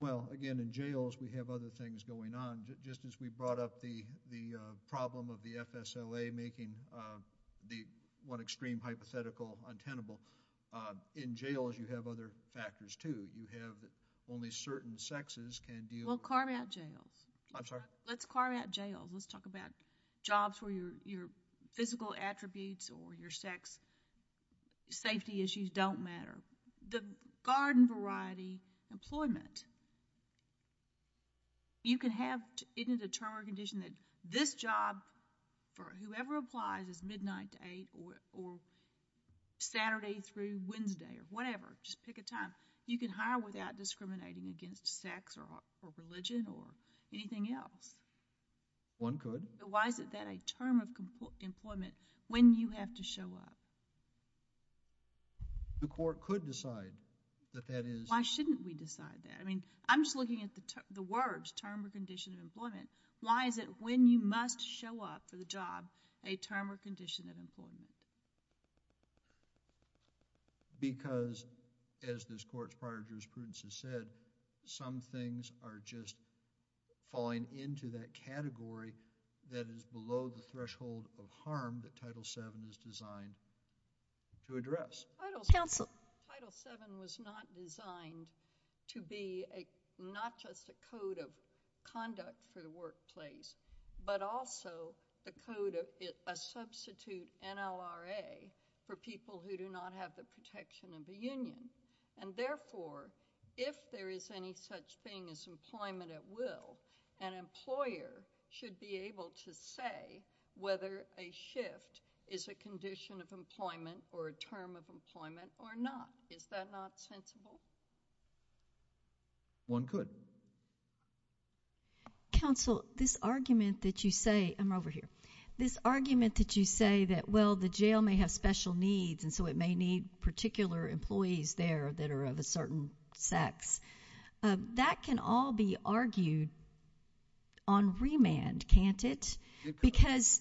Well, again, in jails, we have other things going on. Just as we brought up the problem of the FSLA making the one extreme hypothetical untenable. In jails, you have other factors, too. You have only certain sexes can do... Well, carve out jails. I'm sorry? Let's carve out jails. Let's talk about jobs where your physical attributes or your sex safety issues don't matter. The garden variety employment. You can have... It is a term or condition that this job for whoever applies is midnight to eight or Saturday through Wednesday or whatever. Just pick a time. You can hire without discriminating against sex or religion or anything else. One could. Why is that a term of employment when you have to show up? The court could decide that that is... Why shouldn't we decide that? I mean, I'm just looking at the words term or condition of employment. Why is it when you must show up for the job, a term or condition of employment? Because as this court's prior jurisprudence has said, some things are just falling into that category that is below the threshold of harm that Title VII is designed to address. Title VII was not designed to be not just a code of conduct for the workplace, but also a code of... A substitute NLRA for people who do not have the protection of the union. And therefore, if there is any such thing as employment at will, an employer should be able to say whether a shift is a condition of employment or a term of employment or not. Is that not sensible? One could. Counsel, this argument that you say... I'm over here. This argument that you say that, well, the jail may have special needs and so it may need particular employees there that are of a certain sex. That can all be argued on remand, can't it? Because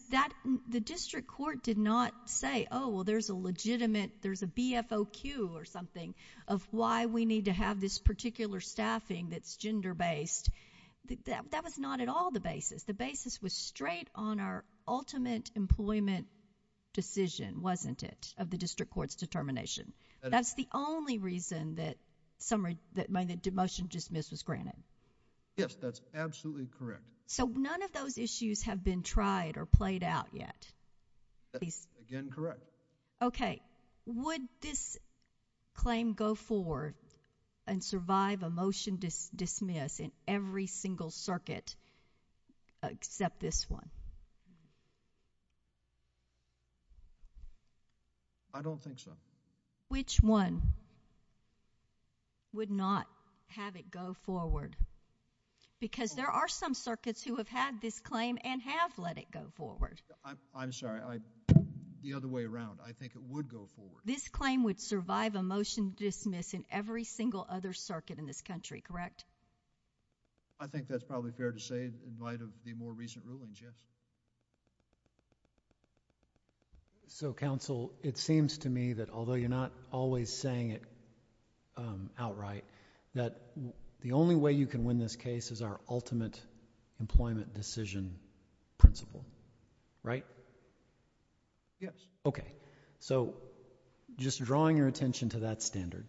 the district court did not say, oh, well, there's a legitimate, there's a BFOQ or something of why we need to have this particular staffing that's gender-based. That was not at all the basis. The basis was straight on our ultimate employment decision, wasn't it? Of the district court's determination. That's the only reason that motion dismiss is granted. Yes, that's absolutely correct. So none of those issues have been tried or played out yet. That's again correct. Okay, would this claim go forward and survive a motion dismiss in every single circuit except this one? I don't think so. Which one would not have it go forward? Because there are some circuits who have had this claim and have let it go forward. I'm sorry, the other way around. I think it would go forward. This claim would survive a motion dismiss in every single other circuit in this country, correct? I think that's probably fair to say in light of the more recent rulings, yes. So counsel, it seems to me that although you're not always saying it outright, that the only way you can win this case is our ultimate employment decision principle, right? Yes. Okay, so just drawing your attention to that standard,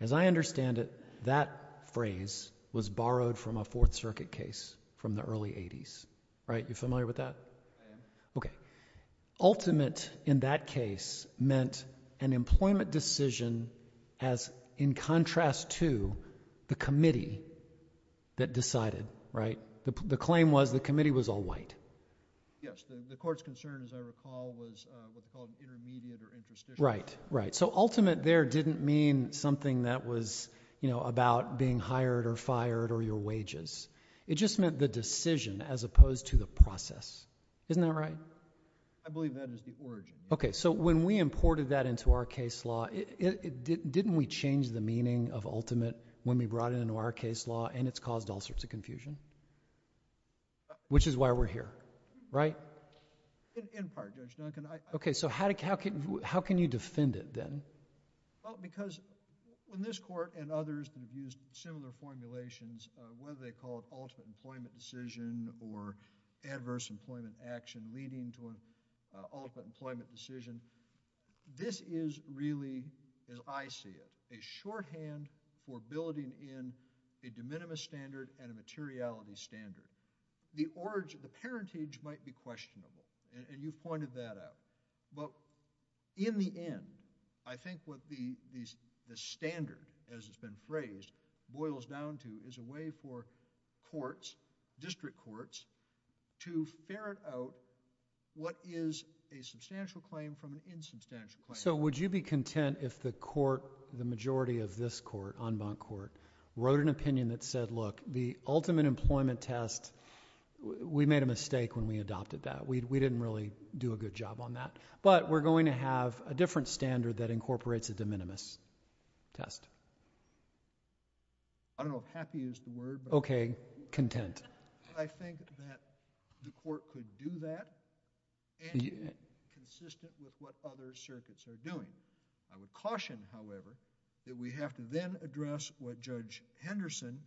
as I understand it, that phrase was borrowed from a Fourth Circuit case from the early 80s, right? You familiar with that? Okay, ultimate in that case meant an employment decision as in contrast to the committee that decided, right? The claim was the committee was all white. Yes, the court's concern, as I recall, was what's called intermediate or interstitial. Right, right. So ultimate there didn't mean something that was, you know, about being hired or fired or your wages. It just meant the decision as opposed to the process. Isn't that right? I believe that is the origin. Okay, so when we imported that into our case law, didn't we change the meaning of ultimate when we brought it into our case law and it's caused all sorts of confusion, which is why we're here, right? In part, Judge Duncan. Okay, so how can you defend it then? Well, because when this court and others have used similar formulations, whether they call it ultimate employment decision or adverse employment action leading to an ultimate employment decision, this is really, as I see it, a shorthand for building in a de minimis standard and a materiality standard. The parentage might be questionable and you pointed that out. But in the end, I think what the standard, as it's been phrased, boils down to is a way for courts, district courts, to ferret out what is a substantial claim from an insubstantial claim. So would you be content if the court, the majority of this court, en banc court, wrote an opinion that said, look, the ultimate employment test, we made a mistake when we adopted that. We didn't really do a good job on that. But we're going to have a different standard that incorporates a de minimis test. I don't know if happy is the word. Okay, content. I think that the court could do that and be consistent with what other circuits are doing. I would caution, however, that we have to then address what Judge Henderson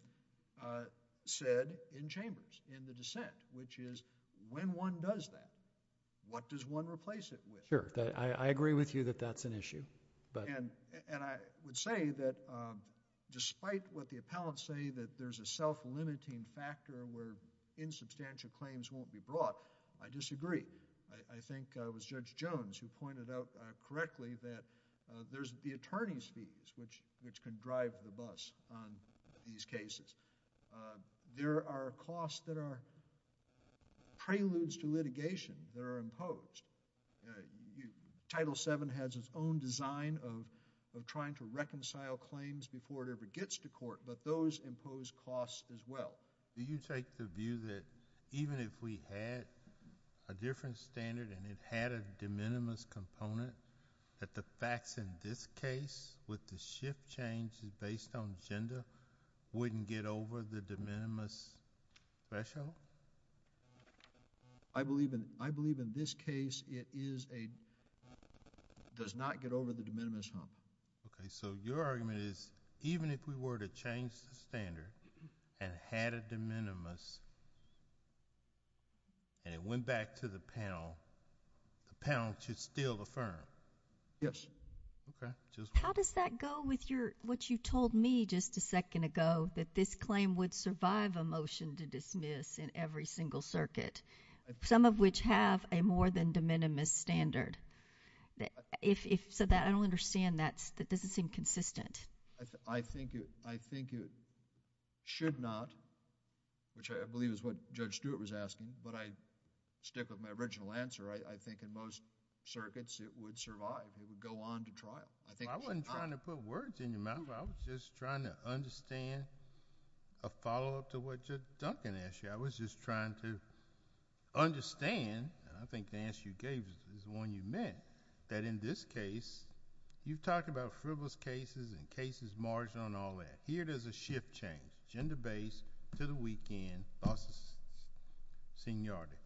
said in Chambers in the dissent, which is when one does that, what does one replace it with? And I would say that despite what the appellants say, that there's a self-limiting factor where insubstantial claims won't be brought, I disagree. I think it was Judge Jones who pointed out correctly that there's the attorney's fees which can drive the bus on these cases. There are costs that are preludes to litigation. They're imposed. Title VII has its own design of trying to reconcile claims before it ever gets to court, but those impose costs as well. Do you take the view that even if we had a different standard and it had a de minimis component, that the facts in this case with the shift changes based on agenda wouldn't get over the de minimis threshold? I believe in this case it is a, does not get over the de minimis threshold. Okay, so your argument is even if we were to change the standard and had a de minimis and went back to the panel, the panel should still affirm? Yes. How does that go with what you told me just a second ago, that this claim would survive a motion to dismiss in every single circuit, some of which have a more than de minimis standard? So I don't understand that this is inconsistent. I think it should not, which I believe is what Judge Stewart was asking, but I stick with my original answer. I think in most circuits it would survive. It would go on to trial. I wasn't trying to put words in your mouth. I was just trying to understand a follow-up to what Judge Duncan asked you. I was just trying to understand, and I think the answer you gave is the one you meant, that in this case, you talk about frivolous cases and cases marginal and all that. Here there's a shift change, agenda-based to the weekend process, seniority.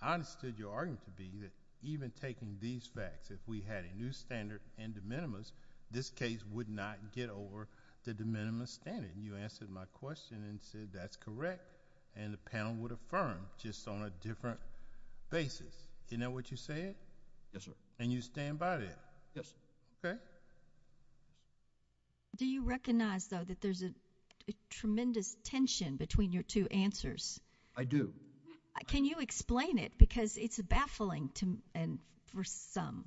I understood your argument to be that even taking these facts, if we had a new standard and de minimis, this case would not get over the de minimis standard. You answered my question and said that's correct, and the panel would affirm just on a different basis. Is that what you said? Yes, sir. And you stand by that? Yes, sir. Okay. Do you recognize, though, that there's a tremendous tension between your two answers? I do. Can you explain it? Because it's baffling for some.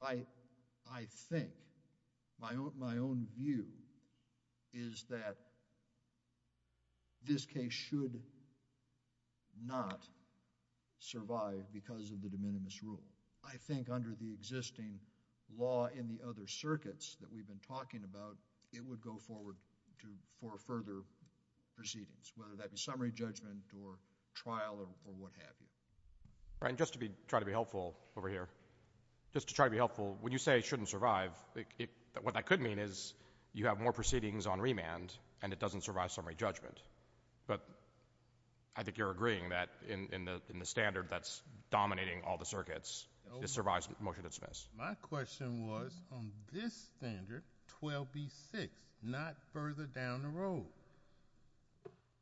I think, my own view is that this case should not survive because of the de minimis rule. I think under the existing law in the other circuits that we've been talking about, it would go forward for further proceedings, whether that be summary judgment or trial or what have you. Just to try to be helpful over here, just to try to be helpful, when you say it shouldn't survive, what that could mean is you have more proceedings on remand and it doesn't survive summary judgment. But I think you're agreeing that in the standard that's dominating all the circuits, it survives most of its best. My question was on this standard, 12B6, not further down the road.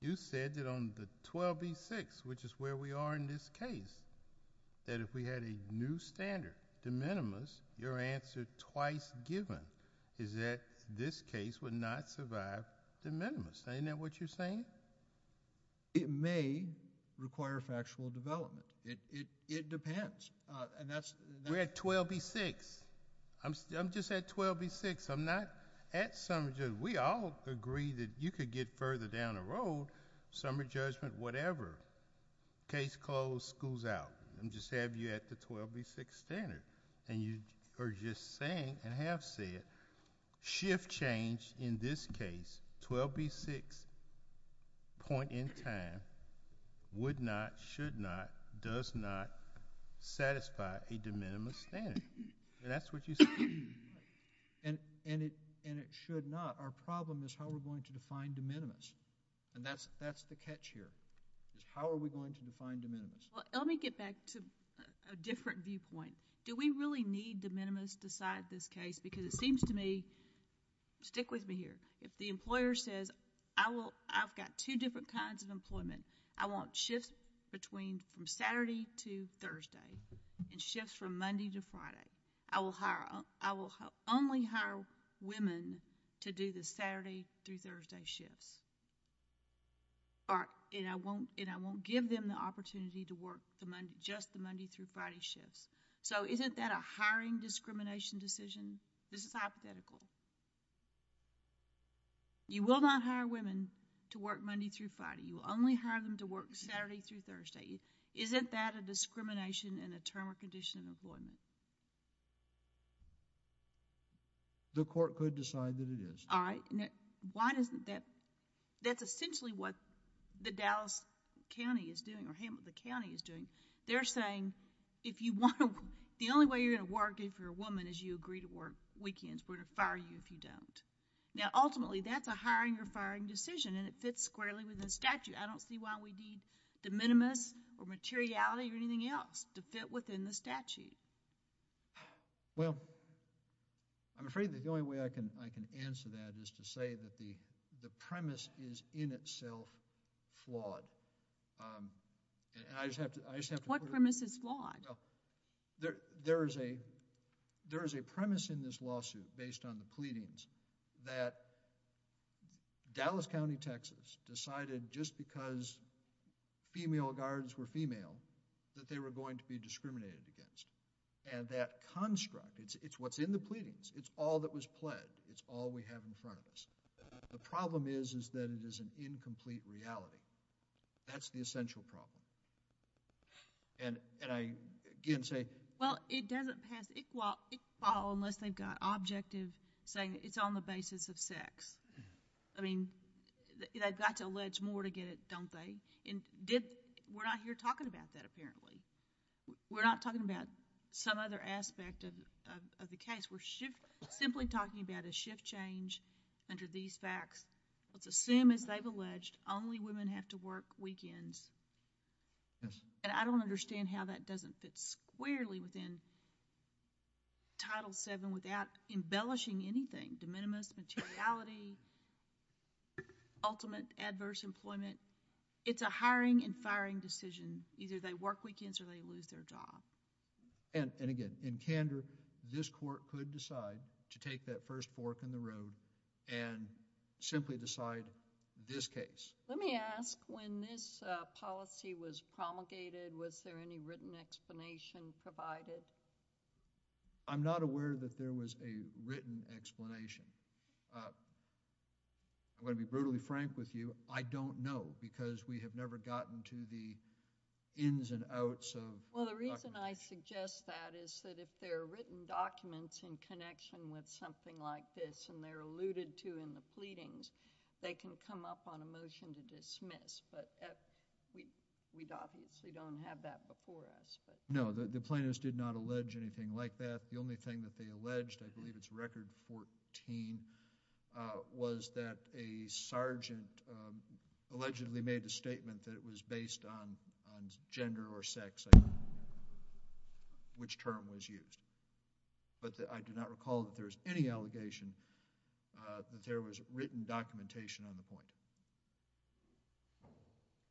You said that on the 12B6, which is where we are in this case, that if we had a new standard de minimis, your answer twice given is that this case would not survive de minimis. Ain't that what you're saying? It may require factual development. It depends. We're at 12B6. I'm just at 12B6. I'm not at summary judgment. We all agree that you could get further down the road, summary judgment, whatever. Case closed, school's out. I'm just having you at the 12B6 standard. And you are just saying, and have said, shift change in this case, 12B6 point in time, would not, should not, does not satisfy a de minimis standard. And that's what you're saying. And it should not. Our problem is how we're going to define de minimis. And that's the catch here, is how are we going to define de minimis? Well, let me get back to a different viewpoint. Do we really need de minimis besides this case? Because it seems to me, stick with me here, if the employer says, I've got two different kinds of employment, I want shifts from Saturday to Thursday, and shifts from Monday to Friday, I will hire, I will only hire women to do the Saturday through Thursday shift. Or, and I won't, and I won't give them the opportunity to work just the Monday through Friday shift. So, isn't that a hiring discrimination decision? This is hypothetical. You will not hire women to work Monday through Friday. You will only hire them to work Saturday through Thursday. Isn't that a discrimination and a term or condition of employment? The court could decide that it is. All right. Why doesn't that, that's essentially what the Dallas County is doing, or Hamilton County is doing. They're saying, if you want to, the only way you're going to work if you're a woman is you agree to work weekends. We're going to fire you if you don't. Now, ultimately, that's a hiring or firing decision, and it fits squarely within the statute. I don't see why we need de minimis or materiality or anything else to fit within the statute. Well, I'm afraid the only way I can, I can answer that is to say that the, the premise is in itself flawed. And I just have to, I just have to. What premise is flawed? There is a, there is a premise in this lawsuit based on the pleadings that Dallas County, Texas decided just because female guards were female that they were going to be discriminated against. And that construct, it's what's in the pleadings. It's all that was pledged. It's all we have in front of us. The problem is, is that it is an incomplete reality. That's the essential problem. And, and I, again, say. Well, it doesn't have, well, it's flawed unless they've got objectives saying it's on the basis of sex. I mean, they've got to allege more to get it, don't they? And we're not here talking about that, apparently. We're not talking about some other aspect of the case. We're simply talking about a shift change under these facts. But the same as they've alleged, only women have to work weekends. And I don't understand how that doesn't fit squarely within Title VII without embellishing anything, de minimis, materiality, ultimate adverse employment. It's a hiring and firing decision. Either they work weekends or they lose their job. And, and again, in candor, this court could decide to take that first fork in the road and simply decide this case. Let me ask, when this policy was promulgated, was there any written explanation provided? I'm not aware that there was a written explanation. I'm going to be brutally frank with you. I don't know, because we have never gotten to the ins and outs of documents. Well, the reason I suggest that is that if there are written documents in connection with something like this and they're alluded to in the pleadings, they can come up on a motion to dismiss. But we obviously don't have that before us. No, the plaintiffs did not allege anything like that. The only thing that they alleged, I believe it's Record 14, was that a sergeant allegedly made a statement that was based on gender or sex. I don't know which term was used. But I do not recall that there was any allegation that there was written documentation on the point.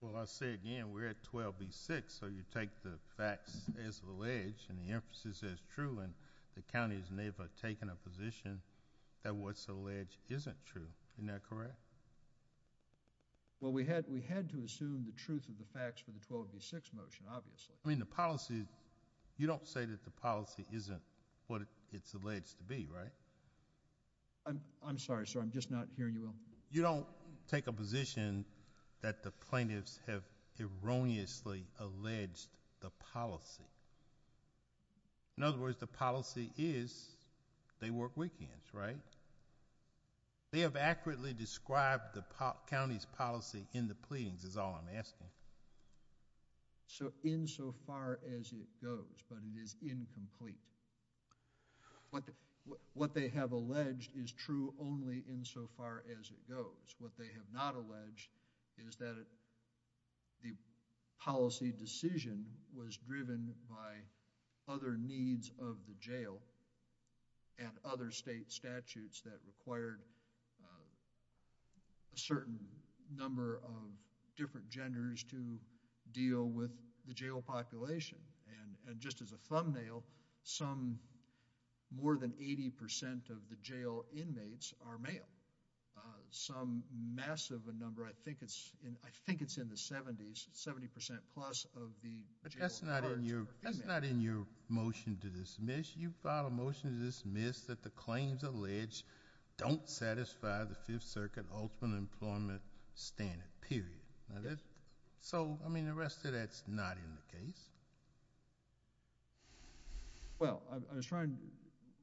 Well, I say again, we're at 12B6, so you take the facts as alleged and the emphasis as true. The county has never taken a position that what's alleged isn't true. Isn't that correct? Well, we had to assume the truth of the facts for the 12B6 motion, obviously. I mean, the policy, you don't say that the policy isn't what it's alleged to be, right? I'm sorry, sir. I'm just not hearing you. You don't take a position that the plaintiffs have erroneously alleged the policy. In other words, the policy is they work weekends, right? They have accurately described the county's policy in the pleadings, is all I'm asking. So insofar as it goes, but it is incomplete. What they have alleged is true only insofar as it goes. What they have not alleged is that the policy decision was driven by other needs of the jail and other state statutes that required a certain number of different genders to deal with the jail population. And just as a thumbnail, some more than 80% of the jail inmates are male. Some massive number, I think it's in the 70s, 70% plus of the jail. That's not in your motion to dismiss. You filed a motion to dismiss that the claims alleged don't satisfy the Fifth Circuit Health and Employment Standard, period. So, I mean, the rest of that's not in the case. Well, I was trying,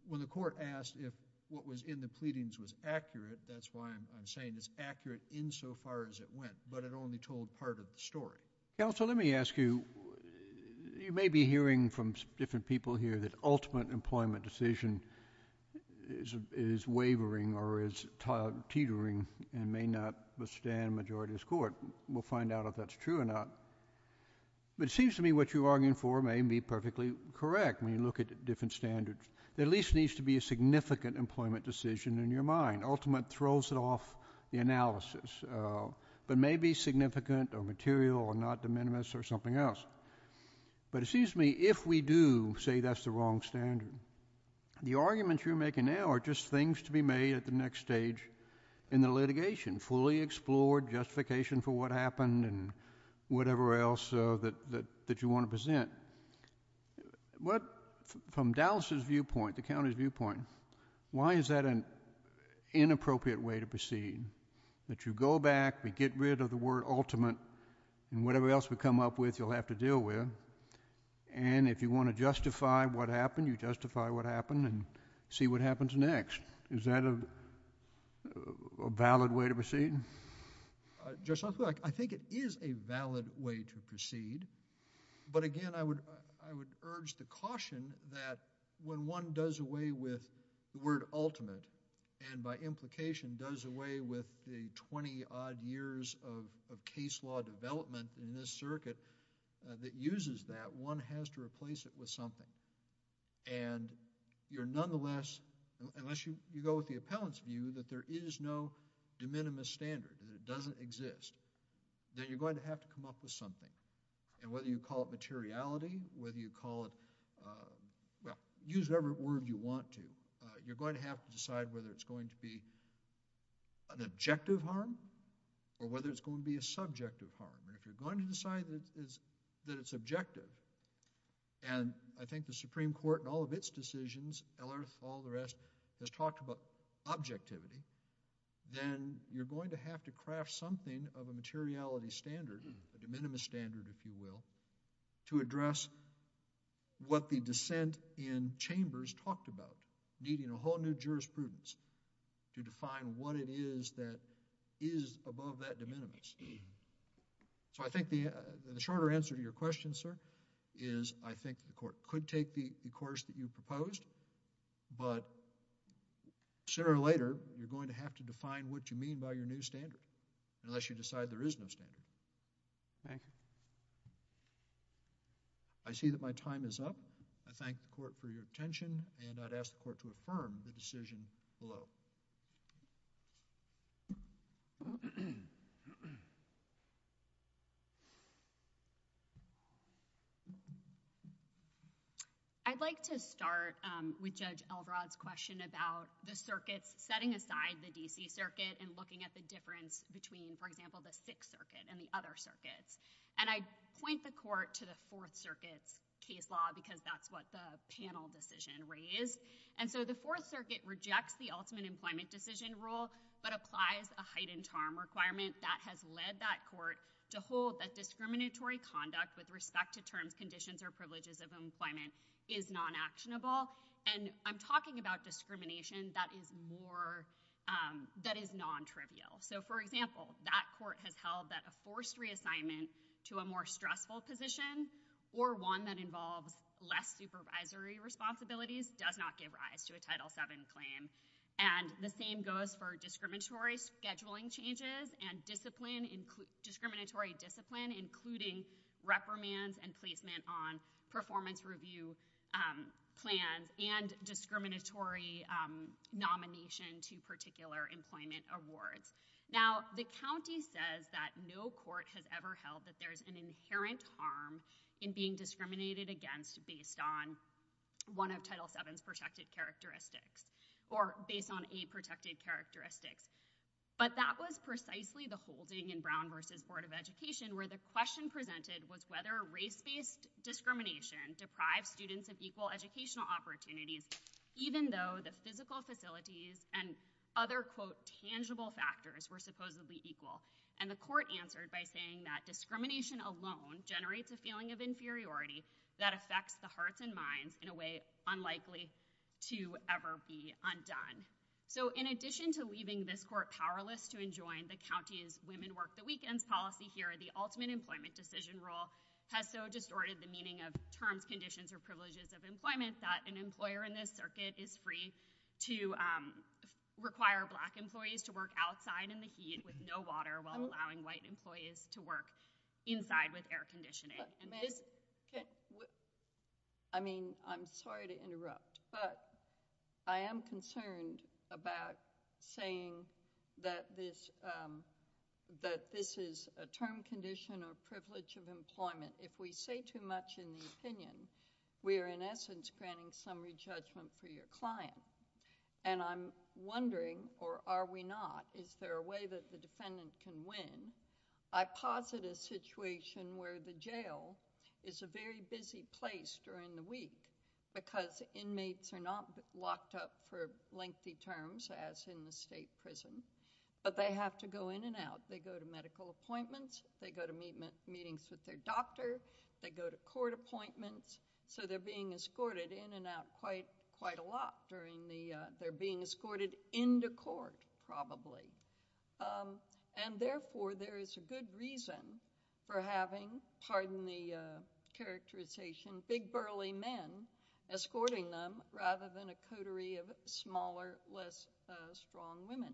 when the court asked if what was in the pleadings was accurate, that's why I'm saying it's accurate insofar as it went, but it only told part of the story. Counsel, let me ask you, you may be hearing from different people here that ultimate employment decision is wavering or is teetering and may not withstand majority of the court. We'll find out if that's true or not. But it seems to me what you're arguing for may be perfectly correct when you look at different standards. There at least needs to be a significant employment decision in your mind. Ultimate throws it off the analysis, but may be significant or material or not de minimis or something else. But it seems to me if we do say that's the wrong standard, the arguments you're making now are just things to be made at the next stage in the litigation, fully explored justification for what happened and whatever else that you want to present. What, from Dallas's viewpoint, the county's viewpoint, why is that an inappropriate way to proceed? That you go back, we get rid of the word ultimate, and whatever else we come up with you'll have to deal with, and if you want to justify what happened, you justify what happened and see what happens next. Is that a valid way to proceed? Just look, I think it is a valid way to proceed. But again, I would urge the caution that when one does away with the word ultimate and by implication does away with the 20 odd years of case law development in this circuit that uses that, one has to replace it with something. And you're nonetheless, unless you go with the appellant's view, that there is no de standard, that it doesn't exist, then you're going to have to come up with something. And whether you call it materiality, whether you call it, well, use whatever word you want to, you're going to have to decide whether it's going to be an objective harm or whether it's going to be a subjective harm. If you're going to decide that it's objective, and I think the Supreme Court in all of its to craft something of a materiality standard, a de minimis standard, if you will, to address what the dissent in chambers talked about, needing a whole new jurisprudence to define what it is that is above that de minimis. So I think the shorter answer to your question, sir, is I think the court could take the course that you proposed, but sooner or later, you're going to have to define what you mean by your standard, unless you decide there is no standard. Thank you. I see that my time is up. I thank the court for your attention, and I'd ask the court to affirm the decision below. I'd like to start with Judge Eldrod's question about the circuit, setting aside the D.C. between, for example, the Sixth Circuit and the other circuits. And I point the court to the Fourth Circuit case law, because that's what the panel decision raised. And so the Fourth Circuit rejects the ultimate employment decision rule, but applies a height and charm requirement that has led that court to hold that discriminatory conduct with respect to terms, conditions, or privileges of employment is non-actionable. And I'm talking about discrimination that is more, that is non-trivial. So, for example, that court has held that a forced reassignment to a more stressful position, or one that involves less supervisory responsibilities, does not give rise to a Title VII claim. And the same goes for discriminatory scheduling changes and discriminatory discipline, including reprimands and placement on performance review plans, and discriminatory nomination to particular employment awards. Now, the county says that no court has ever held that there's an inherent harm in being discriminated against based on one of Title VII's protected characteristics, or based on a protected characteristic. But that was precisely the whole thing in Brown v. Board of Education, where the question presented was whether race-based discrimination deprived students of equal educational opportunities, even though the physical facilities and other, quote, tangible factors were supposedly equal. And the court answered by saying that discrimination alone generates a feeling of inferiority that affects the hearts and minds in a way unlikely to ever be undone. So, in addition to leaving this court powerless to enjoin the county's women work the weekend policy here, the ultimate employment decision rule has so distorted the meaning of terms, and this circuit is free to require black employees to work outside in the heat with no water, while allowing white employees to work inside with air conditioning. I mean, I'm sorry to interrupt, but I am concerned about saying that this is a term condition of privilege of employment. If we say too much in the opinion, we are in essence granting summary judgment for your client. And I'm wondering, or are we not, is there a way that the defendant can win? I posit a situation where the jail is a very busy place during the week because inmates are not locked up for lengthy terms, as in the state prison, but they have to go in and out. They go to medical appointments. They go to meetings with their doctor. They go to court appointments. So they're being escorted in and out quite a lot during the, they're being escorted into court, probably. And therefore, there is a good reason for having, pardon the characterization, big burly men escorting them rather than a coterie of smaller, less strong women.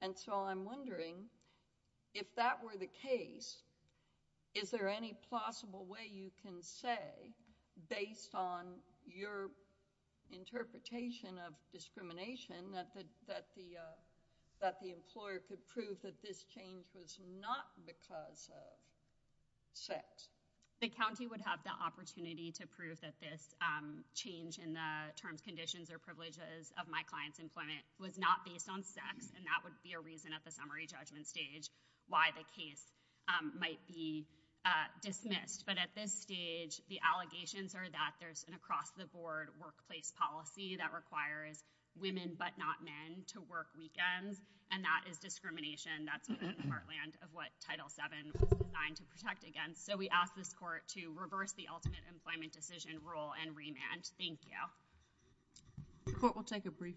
And so I'm wondering, if that were the case, is there any possible way you can say, based on your interpretation of discrimination, that the employer could prove that this change was not because of sex? The county would have the opportunity to prove that this change in the term conditions or employment was not based on sex, and that would be a reason at the summary judgment stage why the case might be dismissed. But at this stage, the allegations are that there's an across-the-board workplace policy that requires women but not men to work weekends, and that is discrimination. That's the heartland of what Title VII was designed to protect against. So we ask this court to reverse the ultimate employment decision rule and remand. Thank you. The court will take a brief recess.